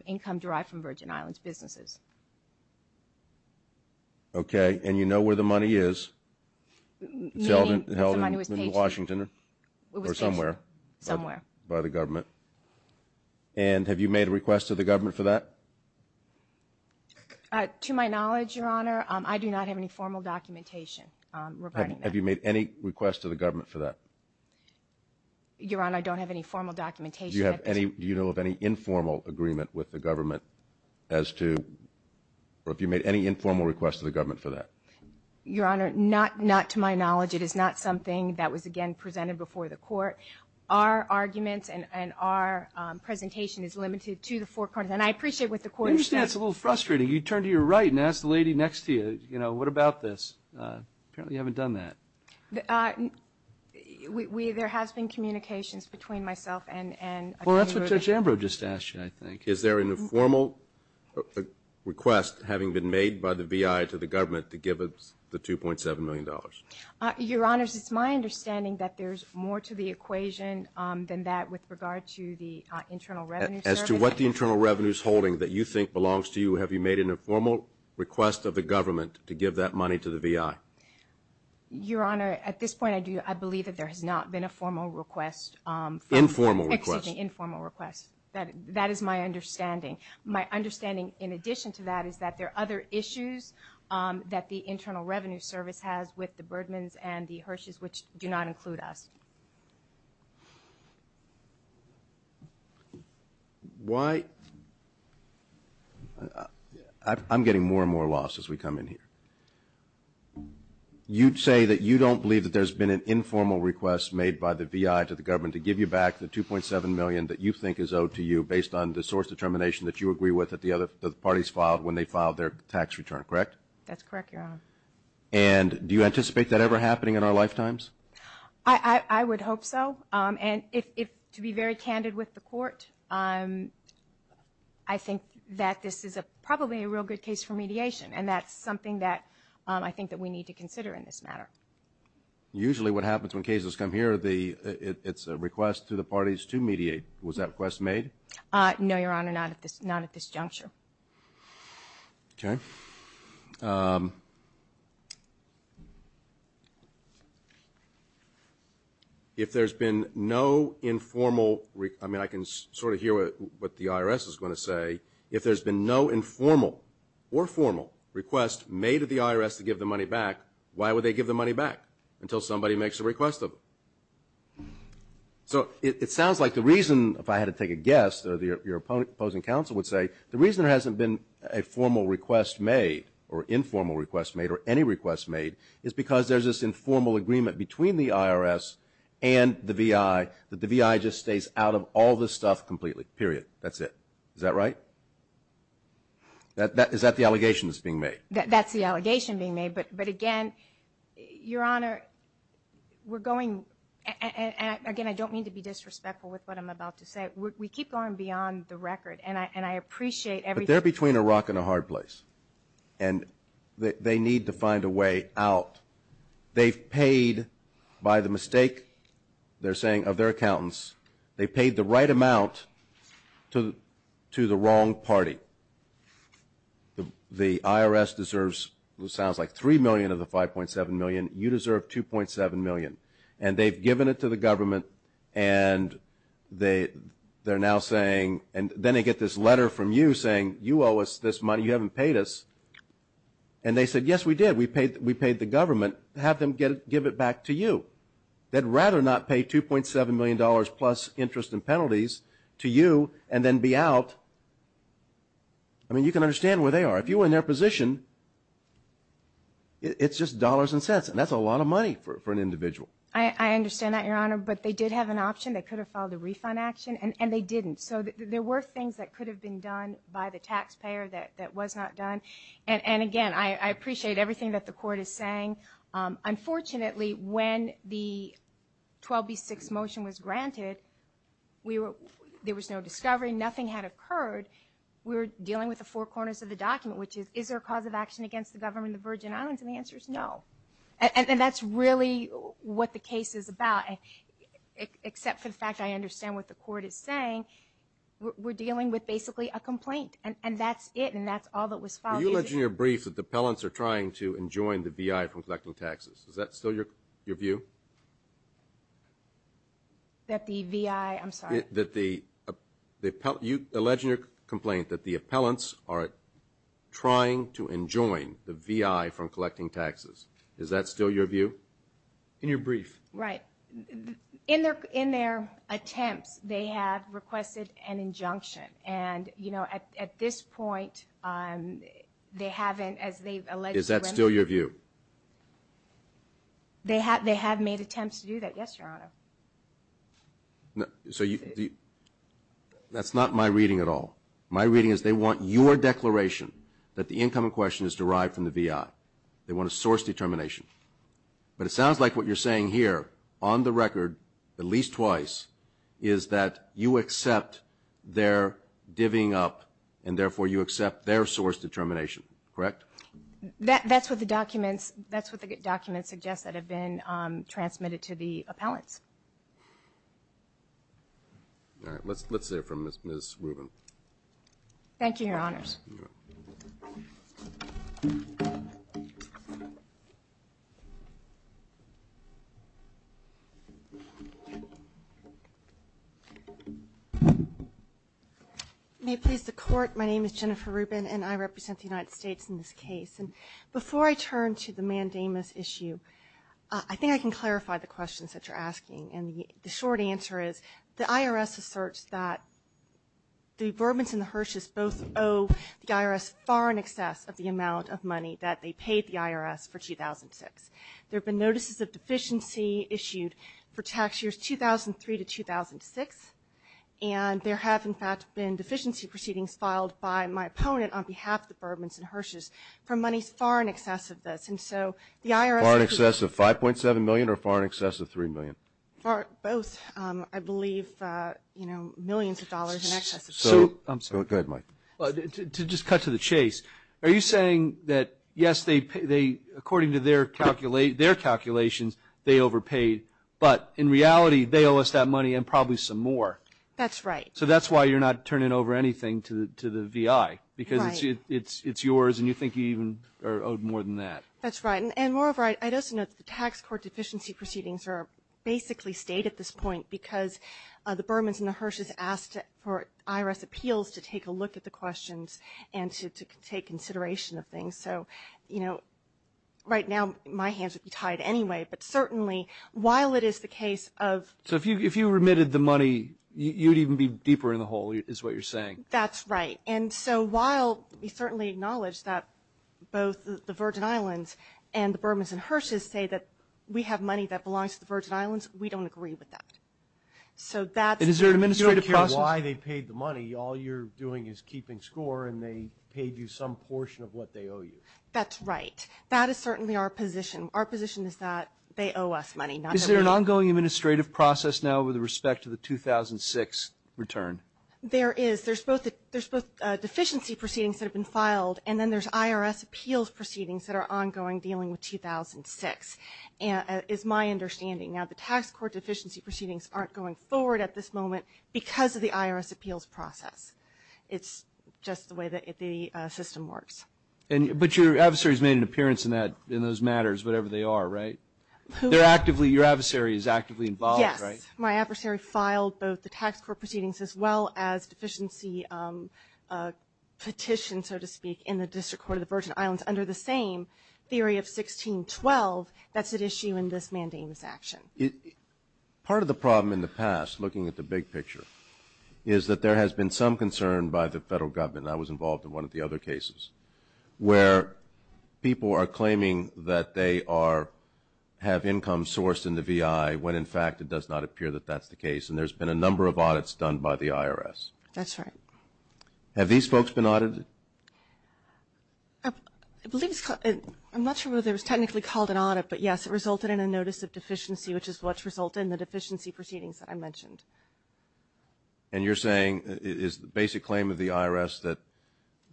income derived from Virgin Islands businesses. Okay. The money was paid for. Was it in Washington or somewhere? Somewhere. By the government? And have you made a request to the government for that? To my knowledge, Your Honor, I do not have any formal documentation regarding that. Have you made any request to the government for that? Your Honor, I don't have any formal documentation. Do you have any – do you know of any informal agreement with the government as to – or have you made any informal request to the government for that? Your Honor, not to my knowledge. It is not something that was, again, presented before the court. Our arguments and our presentation is limited to the forecourt. And I appreciate what the court has said. I understand it's a little frustrating. You turn to your right and ask the lady next to you, you know, what about this? Apparently you haven't done that. We – there has been communications between myself and Judge Ambrose. Well, that's what Judge Ambrose just asked you, I think. Is there an informal request having been made by the VI to the government to give the $2.7 million? Your Honor, it's my understanding that there's more to the equation than that with regard to the Internal Revenue Service. As to what the Internal Revenue is holding that you think belongs to you, have you made an informal request of the government to give that money to the VI? Your Honor, at this point I do – I believe that there has not been a formal request. Informal request. Excuse me, informal request. That is my understanding. My understanding, in addition to that, is that there are other issues that the Internal Revenue Service has with the Birdmans and the Hershes, which do not include us. Why – I'm getting more and more lost as we come in here. You say that you don't believe that there's been an informal request made by the VI to the government to give you back the $2.7 million that you think is owed to you based on the source determination that you agree with that the parties filed when they filed their tax return, correct? That's correct, Your Honor. And do you anticipate that ever happening in our lifetimes? I would hope so. And to be very candid with the Court, I think that this is probably a real good case for mediation, and that's something that I think that we need to consider in this matter. Usually what happens when cases come here, it's a request to the parties to mediate. Was that request made? No, Your Honor, not at this juncture. Okay. If there's been no informal – I mean, I can sort of hear what the IRS is going to say. If there's been no informal or formal request made to the IRS to give the money back, why would they give the money back until somebody makes a request of them? So it sounds like the reason, if I had to take a guess, or your opposing counsel would say, the reason there hasn't been a formal request made or informal request made or any request made is because there's this informal agreement between the IRS and the VI that the VI just stays out of all this stuff completely, period. That's it. Is that right? Is that the allegation that's being made? That's the allegation being made. But, again, Your Honor, we're going – and, again, I don't mean to be disrespectful with what I'm about to say. We keep going beyond the record, and I appreciate everything. But they're between a rock and a hard place, and they need to find a way out. They've paid by the mistake, they're saying, of their accountants. They paid the right amount to the wrong party. The IRS deserves what sounds like $3 million of the $5.7 million. You deserve $2.7 million. And they've given it to the government, and they're now saying – and then they get this letter from you saying, you owe us this money, you haven't paid us. And they said, yes, we did. We paid the government. Have them give it back to you. They'd rather not pay $2.7 million plus interest and penalties to you and then be out. I mean, you can understand where they are. If you were in their position, it's just dollars and cents, and that's a lot of money for an individual. I understand that, Your Honor, but they did have an option. They could have filed a refund action, and they didn't. So there were things that could have been done by the taxpayer that was not done. And, again, I appreciate everything that the court is saying. Unfortunately, when the 12B6 motion was granted, there was no discovery. Nothing had occurred. We were dealing with the four corners of the document, which is, is there a cause of action against the government of the Virgin Islands? And the answer is no. And that's really what the case is about, except for the fact I understand what the court is saying. We're dealing with basically a complaint, and that's it, and that's all that was filed. Were you alleged in your brief that the appellants are trying to enjoin the VI from collecting taxes? Is that still your view? That the VI – I'm sorry. That the – you alleged in your complaint that the appellants are trying to enjoin the VI from collecting taxes. Is that still your view in your brief? Right. In their attempts, they have requested an injunction. And, you know, at this point, they haven't, as they've alleged to the remedy. Is that still your view? They have made attempts to do that. Yes, Your Honor. So you – that's not my reading at all. My reading is they want your declaration that the incoming question is derived from the VI. They want a source determination. But it sounds like what you're saying here, on the record, at least twice, is that you accept their divvying up, and therefore you accept their source determination, correct? That's what the documents – that's what the documents suggest that have been transmitted to the appellants. All right. Let's hear from Ms. Rubin. Thank you, Your Honors. Thank you, Your Honors. May it please the Court, my name is Jennifer Rubin, and I represent the United States in this case. And before I turn to the mandamus issue, I think I can clarify the questions that you're asking. And the short answer is the IRS asserts that the Bourbons and the Hershes both owe the IRS far in excess of the amount of money that they paid the IRS for 2006. There have been notices of deficiency issued for tax years 2003 to 2006, and there have, in fact, been deficiency proceedings filed by my opponent on behalf of the Bourbons and Hershes for monies far in excess of this. Far in excess of $5.7 million or far in excess of $3 million? Both, I believe, you know, millions of dollars in excess of that. Go ahead, Mike. To just cut to the chase, are you saying that, yes, according to their calculations, they overpaid, but in reality they owe us that money and probably some more? That's right. So that's why you're not turning over anything to the VI? Right. Because it's yours and you think you even are owed more than that. That's right. And moreover, I'd also note that the tax court deficiency proceedings are basically state at this point because the Bourbons and the Hershes asked for IRS appeals to take a look at the questions and to take consideration of things. So, you know, right now my hands would be tied anyway, but certainly while it is the case of – So if you remitted the money, you'd even be deeper in the hole is what you're saying. That's right. And so while we certainly acknowledge that both the Virgin Islands and the Bourbons and Hershes say that we have money that belongs to the Virgin Islands, we don't agree with that. And is there an administrative process? You don't care why they paid the money. All you're doing is keeping score and they paid you some portion of what they owe you. That's right. That is certainly our position. Our position is that they owe us money, not them. Is there an ongoing administrative process now with respect to the 2006 return? There is. There's both deficiency proceedings that have been filed and then there's IRS appeals proceedings that are ongoing dealing with 2006 is my understanding. Now, the tax court deficiency proceedings aren't going forward at this moment because of the IRS appeals process. It's just the way the system works. But your adversary has made an appearance in those matters, whatever they are, right? Your adversary is actively involved, right? Yes. My adversary filed both the tax court proceedings as well as deficiency petition, so to speak, in the District Court of the Virgin Islands under the same theory of 1612 that's at issue in this mandamus action. Part of the problem in the past, looking at the big picture, is that there has been some concern by the federal government, and I was involved in one of the other cases, where people are claiming that they have income sourced in the VI when, in fact, it does not appear that that's the case, and there's been a number of audits done by the IRS. That's right. Have these folks been audited? I'm not sure whether it was technically called an audit, but, yes, it resulted in a notice of deficiency, which is what's resulted in the deficiency proceedings that I mentioned. And you're saying it is the basic claim of the IRS that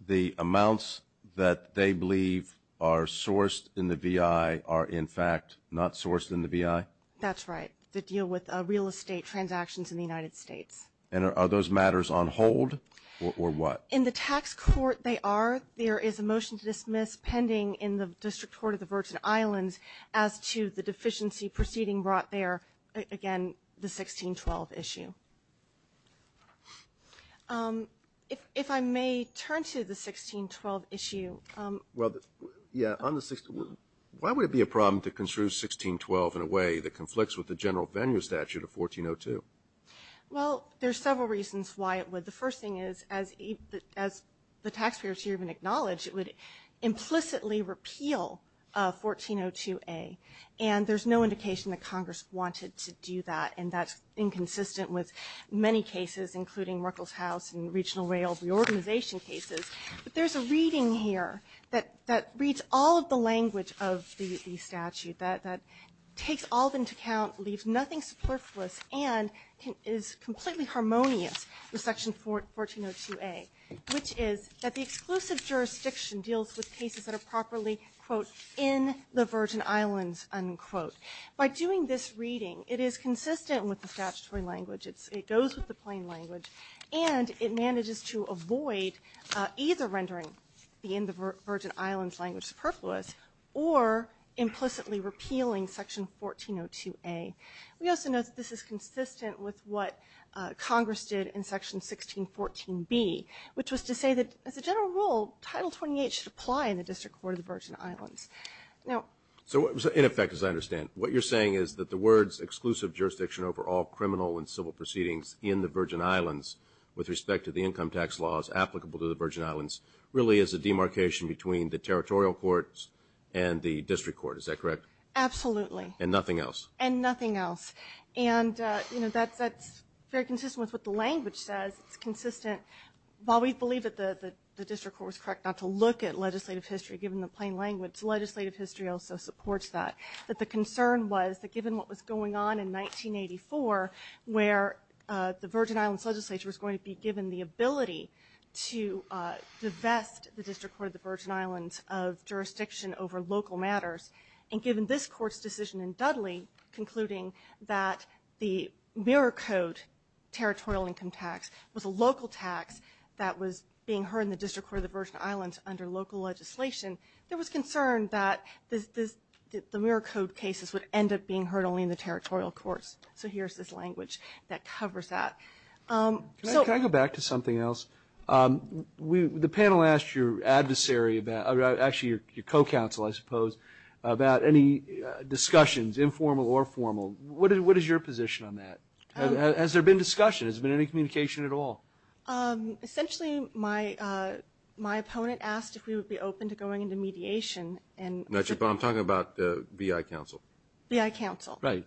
the amounts that they believe are sourced in the VI are, in fact, not sourced in the VI? That's right, the deal with real estate transactions in the United States. And are those matters on hold, or what? In the tax court, they are. There is a motion to dismiss pending in the District Court of the Virgin Islands as to the deficiency proceeding brought there, again, the 1612 issue. If I may turn to the 1612 issue. Why would it be a problem to construe 1612 in a way that conflicts with the general venue statute of 1402? Well, there's several reasons why it would. The first thing is, as the taxpayers here even acknowledge, it would implicitly repeal 1402A, and there's no indication that Congress wanted to do that, and that's inconsistent with many cases, including Merkel's House and regional rail reorganization cases. But there's a reading here that reads all of the language of the statute, that takes all of them into account, leaves nothing superfluous, and is completely harmonious with Section 1402A, which is that the exclusive jurisdiction deals with cases that are properly, quote, in the Virgin Islands, unquote. By doing this reading, it is consistent with the statutory language, it goes with the plain language, and it manages to avoid either rendering the in the Virgin Islands language superfluous or implicitly repealing Section 1402A. We also note that this is consistent with what Congress did in Section 1614B, which was to say that, as a general rule, Title 28 should apply in the District Court of the Virgin Islands. Now so in effect, as I understand, what you're saying is that the words exclusive jurisdiction over all criminal and civil proceedings in the Virgin Islands with respect to the income tax laws applicable to the Virgin Islands really is a demarcation between the territorial courts and the District Court, is that correct? Absolutely. And nothing else? And nothing else. And, you know, that's very consistent with what the language says. It's consistent. While we believe that the District Court was correct not to look at legislative history, given the plain language, legislative history also supports that. But the concern was that given what was going on in 1984 where the Virgin Islands legislature was going to be given the ability to divest the District Court of the Virgin Islands of jurisdiction over local matters, and given this Court's decision in Dudley concluding that the Miracote territorial income tax was a local tax that was being heard in the District Court of the Miracote cases would end up being heard only in the territorial courts. So here's this language that covers that. Can I go back to something else? The panel asked your adversary, actually your co-counsel, I suppose, about any discussions, informal or formal. What is your position on that? Has there been discussion? Has there been any communication at all? Essentially my opponent asked if we would be open to going into mediation. I'm talking about the B.I. Council. B.I. Council. Right.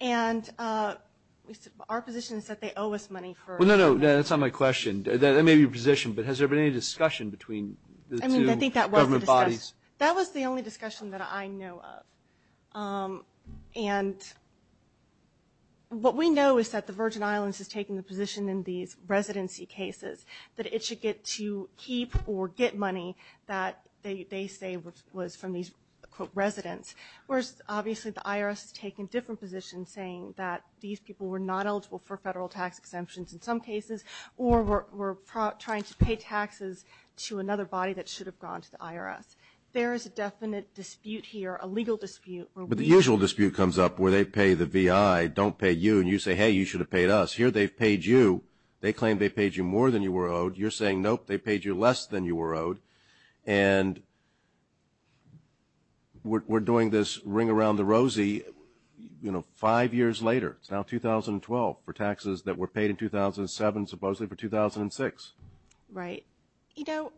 And our position is that they owe us money. No, no, that's not my question. That may be your position. But has there been any discussion between the two government bodies? That was the only discussion that I know of. And what we know is that the Virgin Islands has taken the position in these residents, whereas obviously the IRS has taken different positions saying that these people were not eligible for federal tax exemptions in some cases or were trying to pay taxes to another body that should have gone to the IRS. There is a definite dispute here, a legal dispute. But the usual dispute comes up where they pay the B.I., don't pay you, and you say, hey, you should have paid us. Here they've paid you. They claim they paid you more than you were owed. You're saying, nope, they paid you less than you were owed. And we're doing this ring around the rosy, you know, five years later. It's now 2012 for taxes that were paid in 2007, supposedly for 2006. Right. You know,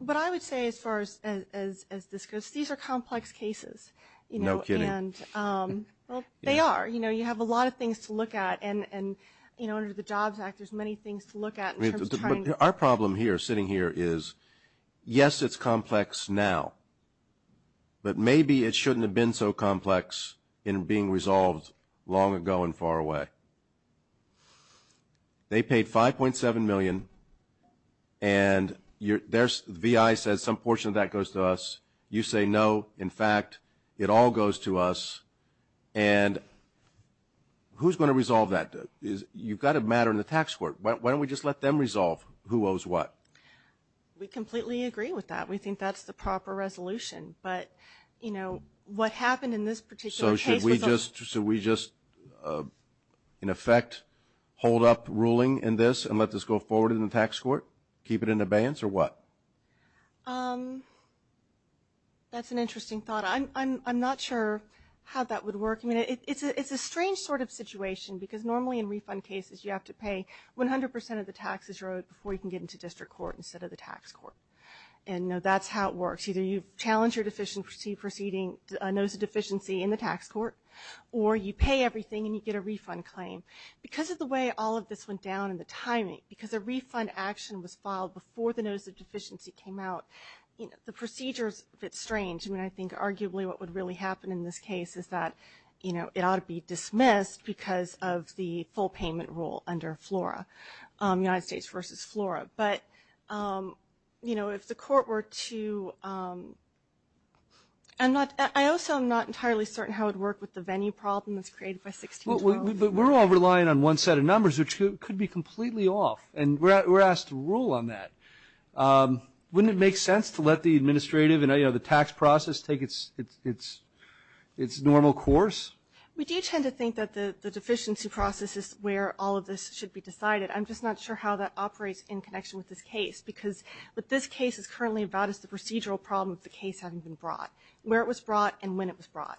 but I would say as far as this goes, these are complex cases. No kidding. And they are. You know, you have a lot of things to look at. And, you know, under the JOBS Act there's many things to look at. Our problem here, sitting here, is, yes, it's complex now, but maybe it shouldn't have been so complex in being resolved long ago and far away. They paid $5.7 million, and the B.I. says some portion of that goes to us. You say, no, in fact, it all goes to us. And who's going to resolve that? You've got a matter in the tax court. Why don't we just let them resolve who owes what? We completely agree with that. We think that's the proper resolution. But, you know, what happened in this particular case was almost – So should we just, in effect, hold up ruling in this and let this go forward in the tax court, keep it in abeyance, or what? That's an interesting thought. I'm not sure how that would work. I mean, it's a strange sort of situation because normally in refund cases you have to pay 100% of the taxes you owe before you can get into district court instead of the tax court. And, no, that's how it works. Either you challenge your notice of deficiency in the tax court, or you pay everything and you get a refund claim. Because of the way all of this went down and the timing, because a refund action was filed before the notice of deficiency came out, the procedures fit strange. I mean, I think arguably what would really happen in this case is that, you know, it ought to be dismissed because of the full payment rule under FLORA, United States versus FLORA. But, you know, if the court were to – I also am not entirely certain how it would work with the venue problem that's created by 1612. But we're all relying on one set of numbers, which could be completely off, and we're asked to rule on that. Wouldn't it make sense to let the administrative and, you know, the tax process take its normal course? We do tend to think that the deficiency process is where all of this should be decided. I'm just not sure how that operates in connection with this case because what this case is currently about is the procedural problem of the case having been brought, where it was brought and when it was brought.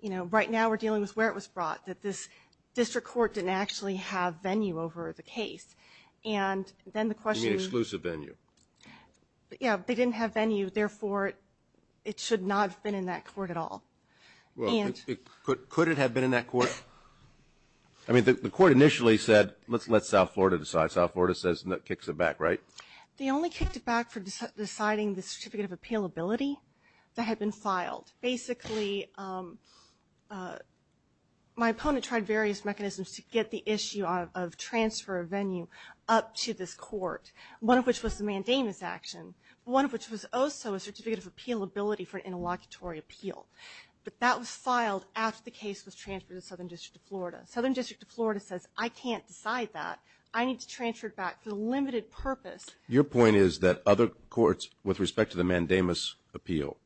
You know, right now we're dealing with where it was brought, that this district court didn't actually have venue over the case. And then the question is – You mean exclusive venue. Yeah, they didn't have venue. Therefore, it should not have been in that court at all. Could it have been in that court? I mean, the court initially said, let's let South Florida decide. South Florida says – kicks it back, right? They only kicked it back for deciding the certificate of appealability that had been filed. Basically, my opponent tried various mechanisms to get the issue of transfer of venue up to this court, one of which was the mandamus action, one of which was also a certificate of appealability for an interlocutory appeal. But that was filed after the case was transferred to Southern District of Florida. Southern District of Florida says, I can't decide that. I need to transfer it back for a limited purpose. Your point is that other courts, with respect to the mandamus appeal,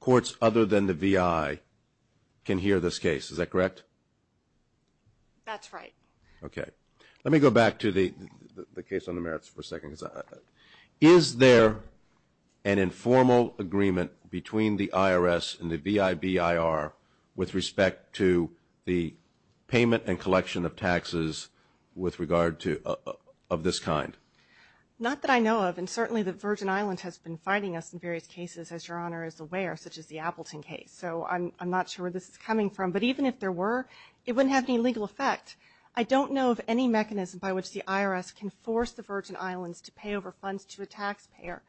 courts other than the VI can hear this case. Is that correct? That's right. Okay. Let me go back to the case on the merits for a second. Is there an informal agreement between the IRS and the VIBIR with respect to the payment and collection of taxes with regard to – of this kind? Not that I know of. And certainly the Virgin Islands has been fighting us in various cases, as Your Honor is aware, such as the Appleton case. So I'm not sure where this is coming from. But even if there were, it wouldn't have any legal effect. I don't know of any mechanism by which the IRS can force the Virgin Islands to pay over funds to a taxpayer,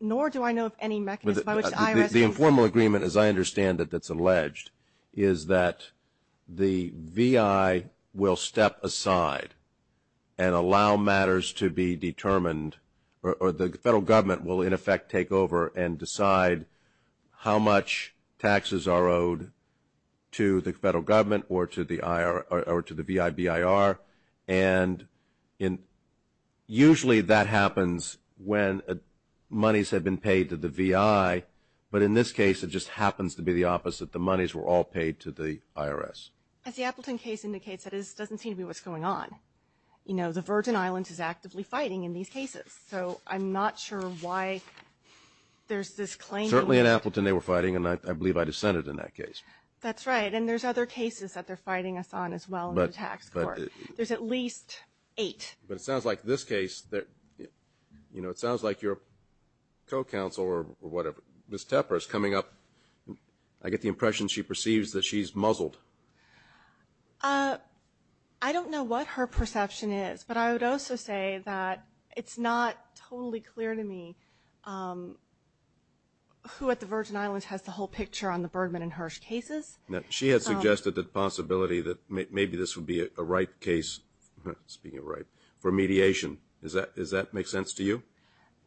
nor do I know of any mechanism by which the IRS can – The informal agreement, as I understand it, that's alleged, is that the VI will step aside and allow matters to be determined or the federal government will, in effect, take over and decide how much taxes are owed to the federal government or to the VIBIR. And usually that happens when monies have been paid to the VI, but in this case it just happens to be the opposite. The monies were all paid to the IRS. As the Appleton case indicates, that doesn't seem to be what's going on. You know, the Virgin Islands is actively fighting in these cases. So I'm not sure why there's this claim. Certainly in Appleton they were fighting, and I believe I dissented in that case. That's right. And there's other cases that they're fighting us on as well in the tax court. There's at least eight. But it sounds like this case, you know, it sounds like your co-counsel or whatever, Ms. Tepper, is coming up, I get the impression she perceives that she's muzzled. I don't know what her perception is, but I would also say that it's not totally clear to me who at the Virgin Islands has the whole picture on the Bergman and Hirsch cases. She had suggested the possibility that maybe this would be a right case, speaking of right, for mediation. Does that make sense to you?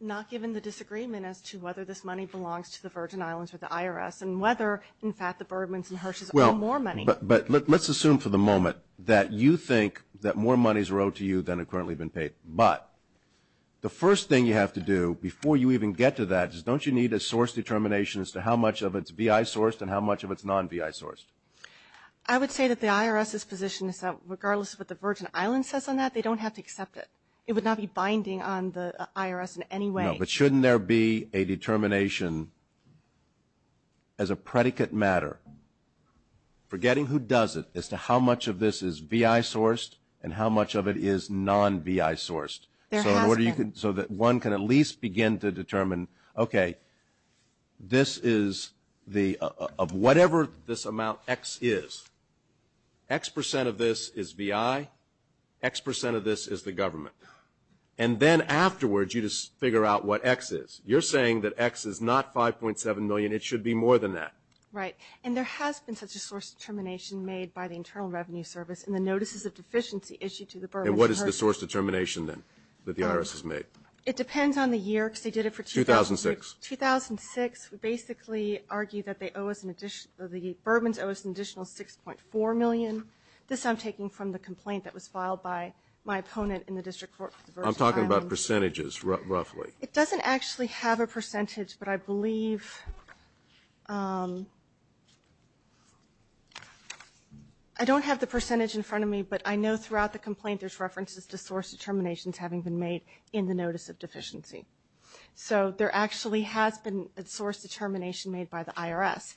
Not given the disagreement as to whether this money belongs to the Virgin Islands or the IRS and whether, in fact, the Bergmans and Hirschs owe more money. But let's assume for the moment that you think that more money is owed to you than had currently been paid. But the first thing you have to do before you even get to that is don't you need a source determination as to how much of it's VI sourced and how much of it's non-VI sourced? I would say that the IRS's position is that regardless of what the Virgin Islands says on that, they don't have to accept it. It would not be binding on the IRS in any way. No, but shouldn't there be a determination as a predicate matter, forgetting who does it, as to how much of this is VI sourced and how much of it is non-VI sourced? There has been. So that one can at least begin to determine, okay, this is the, of whatever this amount X is, X percent of this is VI, X percent of this is the government. And then afterwards you just figure out what X is. You're saying that X is not 5.7 million. It should be more than that. Right. And there has been such a source determination made by the Internal Revenue Service in the notices of deficiency issued to the Burmans. And what is the source determination then that the IRS has made? It depends on the year because they did it for 2006. 2006 would basically argue that they owe us an additional, the Burmans owe us an additional 6.4 million. This I'm taking from the complaint that was filed by my opponent in the district court. I'm talking about percentages roughly. It doesn't actually have a percentage, but I believe, I don't have the percentage in front of me, but I know throughout the complaint there's references to source determinations having been made in the notice of deficiency. So there actually has been a source determination made by the IRS.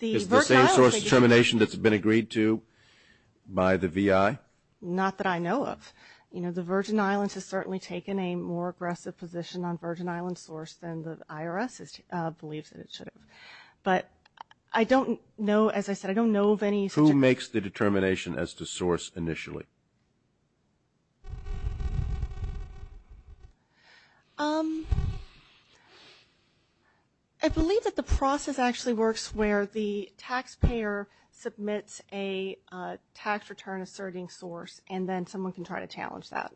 Is the same source determination that's been agreed to by the VI? Not that I know of. You know, the Virgin Islands has certainly taken a more aggressive position on Virgin Islands source than the IRS believes that it should have. But I don't know, as I said, I don't know of any such. Who makes the determination as to source initially? I believe that the process actually works where the taxpayer submits a tax return asserting source and then someone can try to challenge that.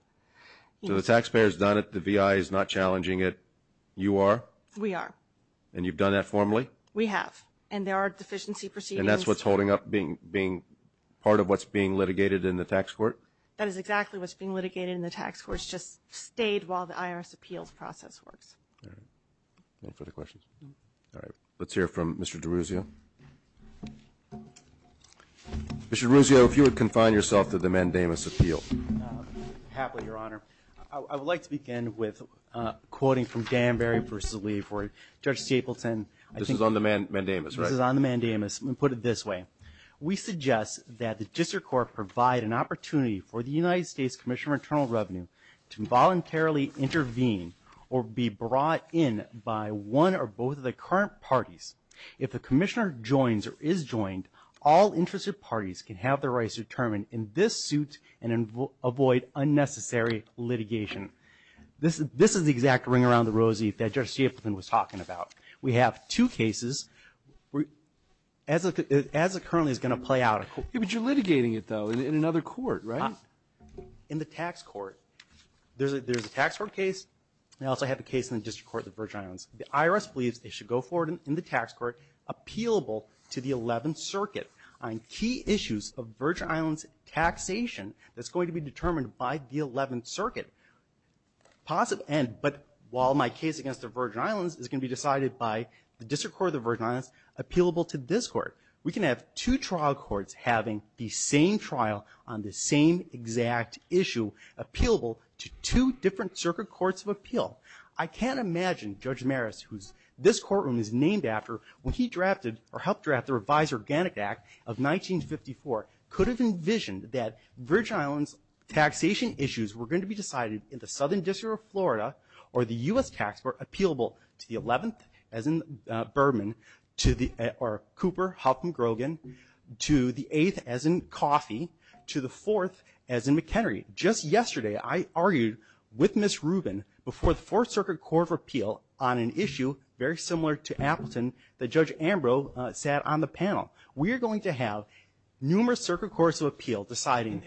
So the taxpayer has done it. The VI is not challenging it. You are? We are. And you've done that formally? We have. And there are deficiency proceedings. And that's what's holding up being part of what's being litigated in the tax court? That is exactly what's being litigated in the tax court. It's just stayed while the IRS appeals process works. All right. Any further questions? No. All right. Let's hear from Mr. DeRuzio. Mr. DeRuzio, if you would confine yourself to the mandamus appeal. Happily, Your Honor. I would like to begin with quoting from Danbury v. Lee for Judge Stapleton. This is on the mandamus, right? This is on the mandamus. Let me put it this way. We suggest that the district court provide an opportunity for the United States Commissioner of Internal Revenue to voluntarily intervene or be brought in by one or both of the current parties. If the commissioner joins or is joined, all interested parties can have their rights determined in this suit and avoid unnecessary litigation. This is the exact ring around the rosy that Judge Stapleton was talking about. We have two cases. As it currently is going to play out. But you're litigating it, though, in another court, right? In the tax court. There's a tax court case. I also have a case in the district court of the Virgin Islands. The IRS believes they should go forward in the tax court appealable to the 11th Circuit on key issues of Virgin Islands taxation that's going to be determined by the 11th Circuit. But while my case against the Virgin Islands is going to be decided by the district court of the Virgin Islands appealable to this court, we can have two trial courts having the same trial on the same exact issue appealable to two different circuit courts of appeal. I can't imagine Judge Maris, who this courtroom is named after, when he drafted or helped draft the Revised Organic Act of 1954 could have envisioned that Virgin Islands taxation issues were going to be decided in the Southern District of Florida or the U.S. tax court appealable to the 11th, as in Berman, or Cooper, Huffman, Grogan, to the 8th, as in Coffey, to the 4th, as in McHenry. Just yesterday, I argued with Ms. Rubin before the 4th Circuit Court of Appeal on an issue very similar to Appleton that Judge Ambrose sat on the panel. We are going to have numerous circuit courts of appeal deciding...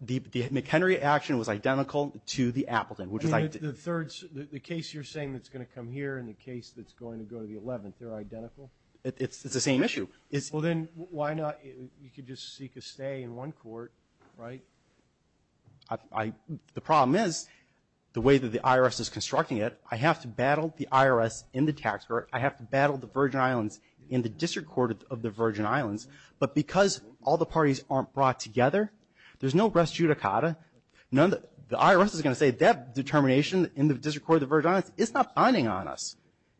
The McHenry action was identical to the Appleton. The case you're saying that's going to come here and the case that's going to go to the 11th, they're identical? It's the same issue. Well, then, why not... You could just seek a stay in one court, right? The problem is, the way that the IRS is constructing it, I have to battle the IRS in the tax court, I have to battle the Virgin Islands in the District Court of the Virgin Islands, but because all the parties aren't brought together, there's no res judicata. The IRS is going to say that determination in the District Court of the Virgin Islands, it's not binding on us.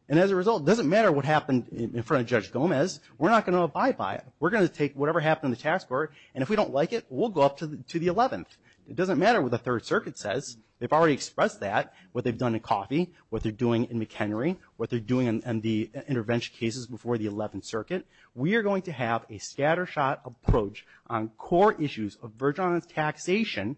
And as a result, it doesn't matter what happened in front of Judge Gomez, we're not going to abide by it. We're going to take whatever happened in the tax court, and if we don't like it, we'll go up to the 11th. It doesn't matter what the 3rd Circuit says. They've already expressed that, what they've done in Coffey, what they're doing in McHenry, what they're doing in the intervention cases before the 11th Circuit. We are going to have a scattershot approach on core issues of Virgin Islands taxation,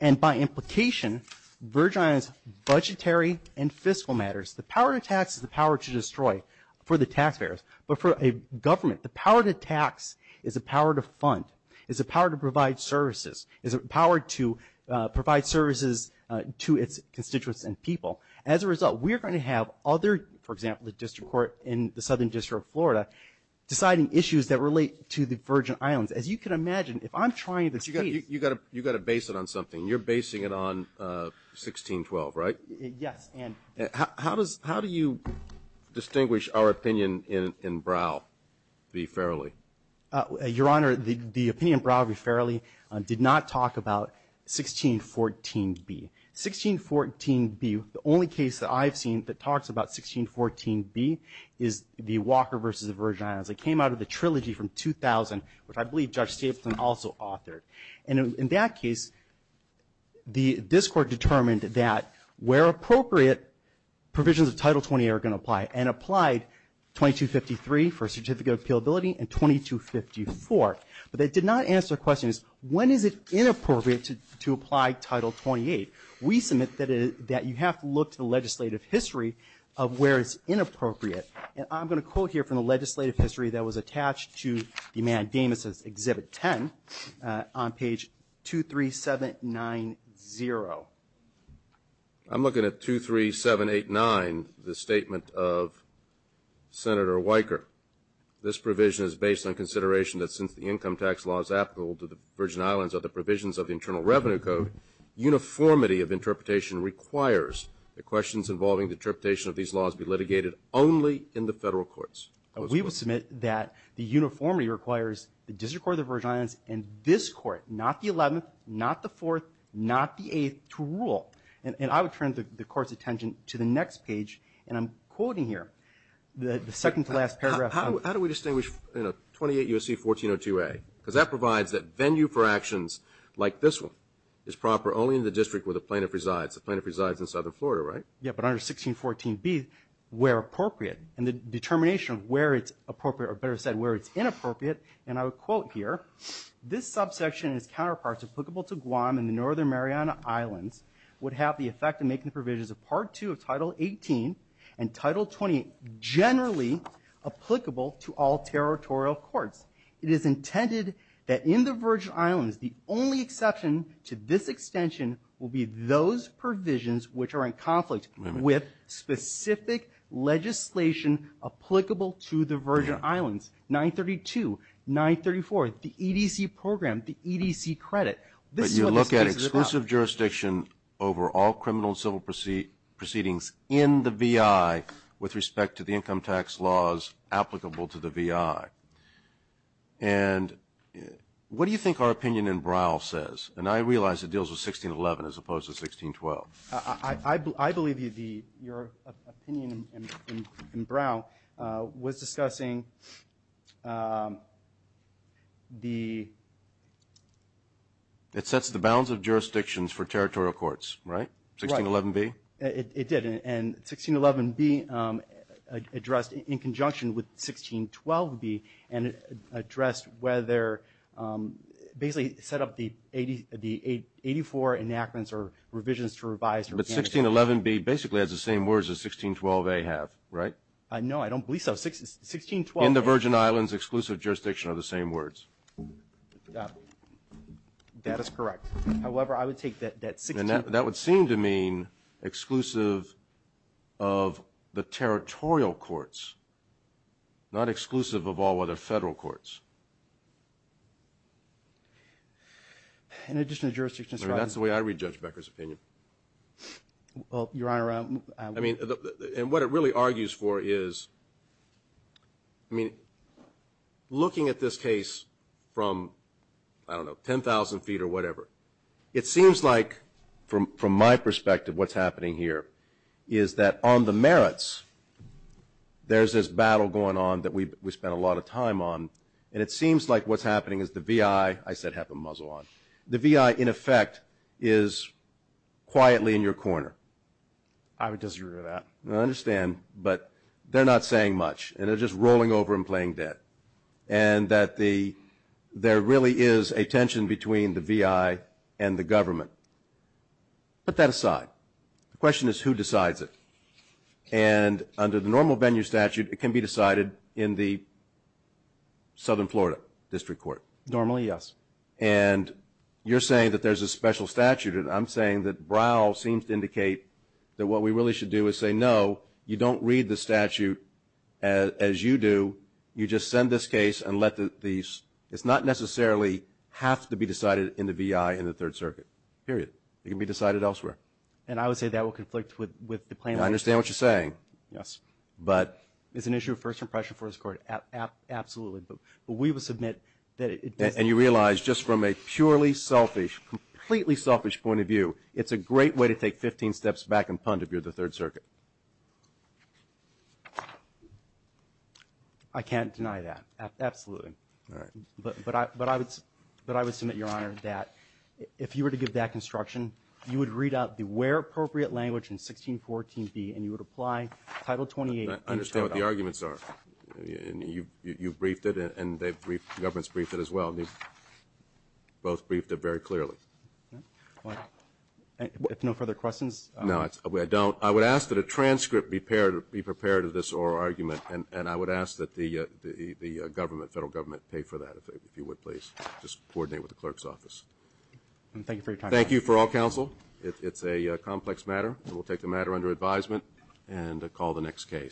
and by implication, Virgin Islands' budgetary and fiscal matters. The power to tax is the power to destroy for the taxpayers, but for a government, the power to tax is a power to fund, is a power to provide services, is a power to provide services to its constituents and people. As a result, we are going to have other, for example, the District Court in the Southern District of Florida, deciding issues that relate to the Virgin Islands. As you can imagine, if I'm trying this case... You've got to base it on something. You're basing it on 1612, right? Yes, and... How do you distinguish our opinion in Brow v. Farrelly? Your Honor, the opinion in Brow v. Farrelly did not talk about 1614b. 1614b, the only case that I've seen that talks about 1614b is the Walker v. Virgin Islands. It came out of the trilogy from 2000, which I believe Judge Stapleton also authored. And in that case, the District Court determined that where appropriate, provisions of Title 28 are going to apply, and applied 2253 for certificate of appealability and 2254. But they did not answer the question, when is it inappropriate to apply Title 28? We submit that you have to look to the legislative history of where it's inappropriate. And I'm going to quote here from the legislative history that was attached to Eman Damas's Exhibit 10 on page 23790. I'm looking at 23789, the statement of Senator Weicker. This provision is based on consideration that since the income tax law is applicable to the Virgin Islands of the provisions of the Internal Revenue Code, uniformity of interpretation requires that questions involving the interpretation of these laws be litigated only in the federal courts. We will submit that the uniformity requires the District Court of the Virgin Islands and this Court, not the 11th, not the 4th, not the 8th, to rule. And I would turn the Court's attention to the next page, and I'm quoting here, the second-to-last paragraph. How do we distinguish 28 U.S.C. 1402a? Because that provides that venue for actions like this one is proper only in the district where the plaintiff resides. The plaintiff resides in southern Florida, right? Yeah, but under 1614b, where appropriate. And the determination of where it's appropriate, or better said, where it's inappropriate, and I would quote here, this subsection and its counterparts applicable to Guam and the Northern Mariana Islands would have the effect of making the provisions of Part II of Title 18 and Title 28 generally applicable to all territorial courts. It is intended that in the Virgin Islands the only exception to this extension will be those provisions which are in conflict with specific legislation applicable to the Virgin Islands, 932, 934, the EDC program, the EDC credit. But you look at exclusive jurisdiction over all criminal and civil proceedings in the VI with respect to the income tax laws applicable to the VI. And what do you think our opinion in Braille says? And I realize it deals with 1611 as opposed to 1612. I believe your opinion in Braille was discussing the... It sets the bounds of jurisdictions for territorial courts, right? Right. 1611b? It did. And 1611b addressed in conjunction with 1612b and addressed whether... Basically set up the 84 enactments or revisions to revise... But 1611b basically has the same words as 1612a have, right? No, I don't believe so. 1612a... In the Virgin Islands, exclusive jurisdiction are the same words. That is correct. However, I would take that 16... And that would seem to mean exclusive of the territorial courts, not exclusive of all other federal courts. In addition to jurisdictions... That's the way I read Judge Becker's opinion. Well, Your Honor... I mean... And what it really argues for is... I mean, looking at this case from, I don't know, 10,000 feet or whatever, it seems like, from my perspective, what's happening here is that on the merits, there's this battle going on that we spent a lot of time on, and it seems like what's happening is the VI... I said have a muzzle on. The VI, in effect, is quietly in your corner. I would disagree with that. I understand, but they're not saying much, and they're just rolling over and playing dead, and that there really is a tension between the VI and the government. Put that aside. The question is, who decides it? And under the normal venue statute, it can be decided in the Southern Florida District Court. Normally, yes. And you're saying that there's a special statute, and I'm saying that Browl seems to indicate that what we really should do is say, no, you don't read the statute as you do. You just send this case and let the... It's not necessarily have to be decided in the VI in the Third Circuit, period. It can be decided elsewhere. And I would say that will conflict with the plan... I understand what you're saying. Yes. But... It's an issue of first impression for this Court, absolutely. But we will submit that it... And you realize just from a purely selfish, completely selfish point of view, it's a great way to take 15 steps back and punt if you're the Third Circuit. I can't deny that, absolutely. All right. But I would submit, Your Honor, that if you were to give that construction, you would read out the where appropriate language in 1614B, and you would apply Title 28... I understand what the arguments are. And you've briefed it, and the government's briefed it as well, and they've both briefed it very clearly. All right. If no further questions... No, I don't. I would ask that a transcript be prepared of this oral argument, and I would ask that the government, federal government, pay for that, if you would, please. Just coordinate with the clerk's office. Thank you for your time. Thank you for all counsel. It's a complex matter, and we'll take the matter under advisement and call the next case.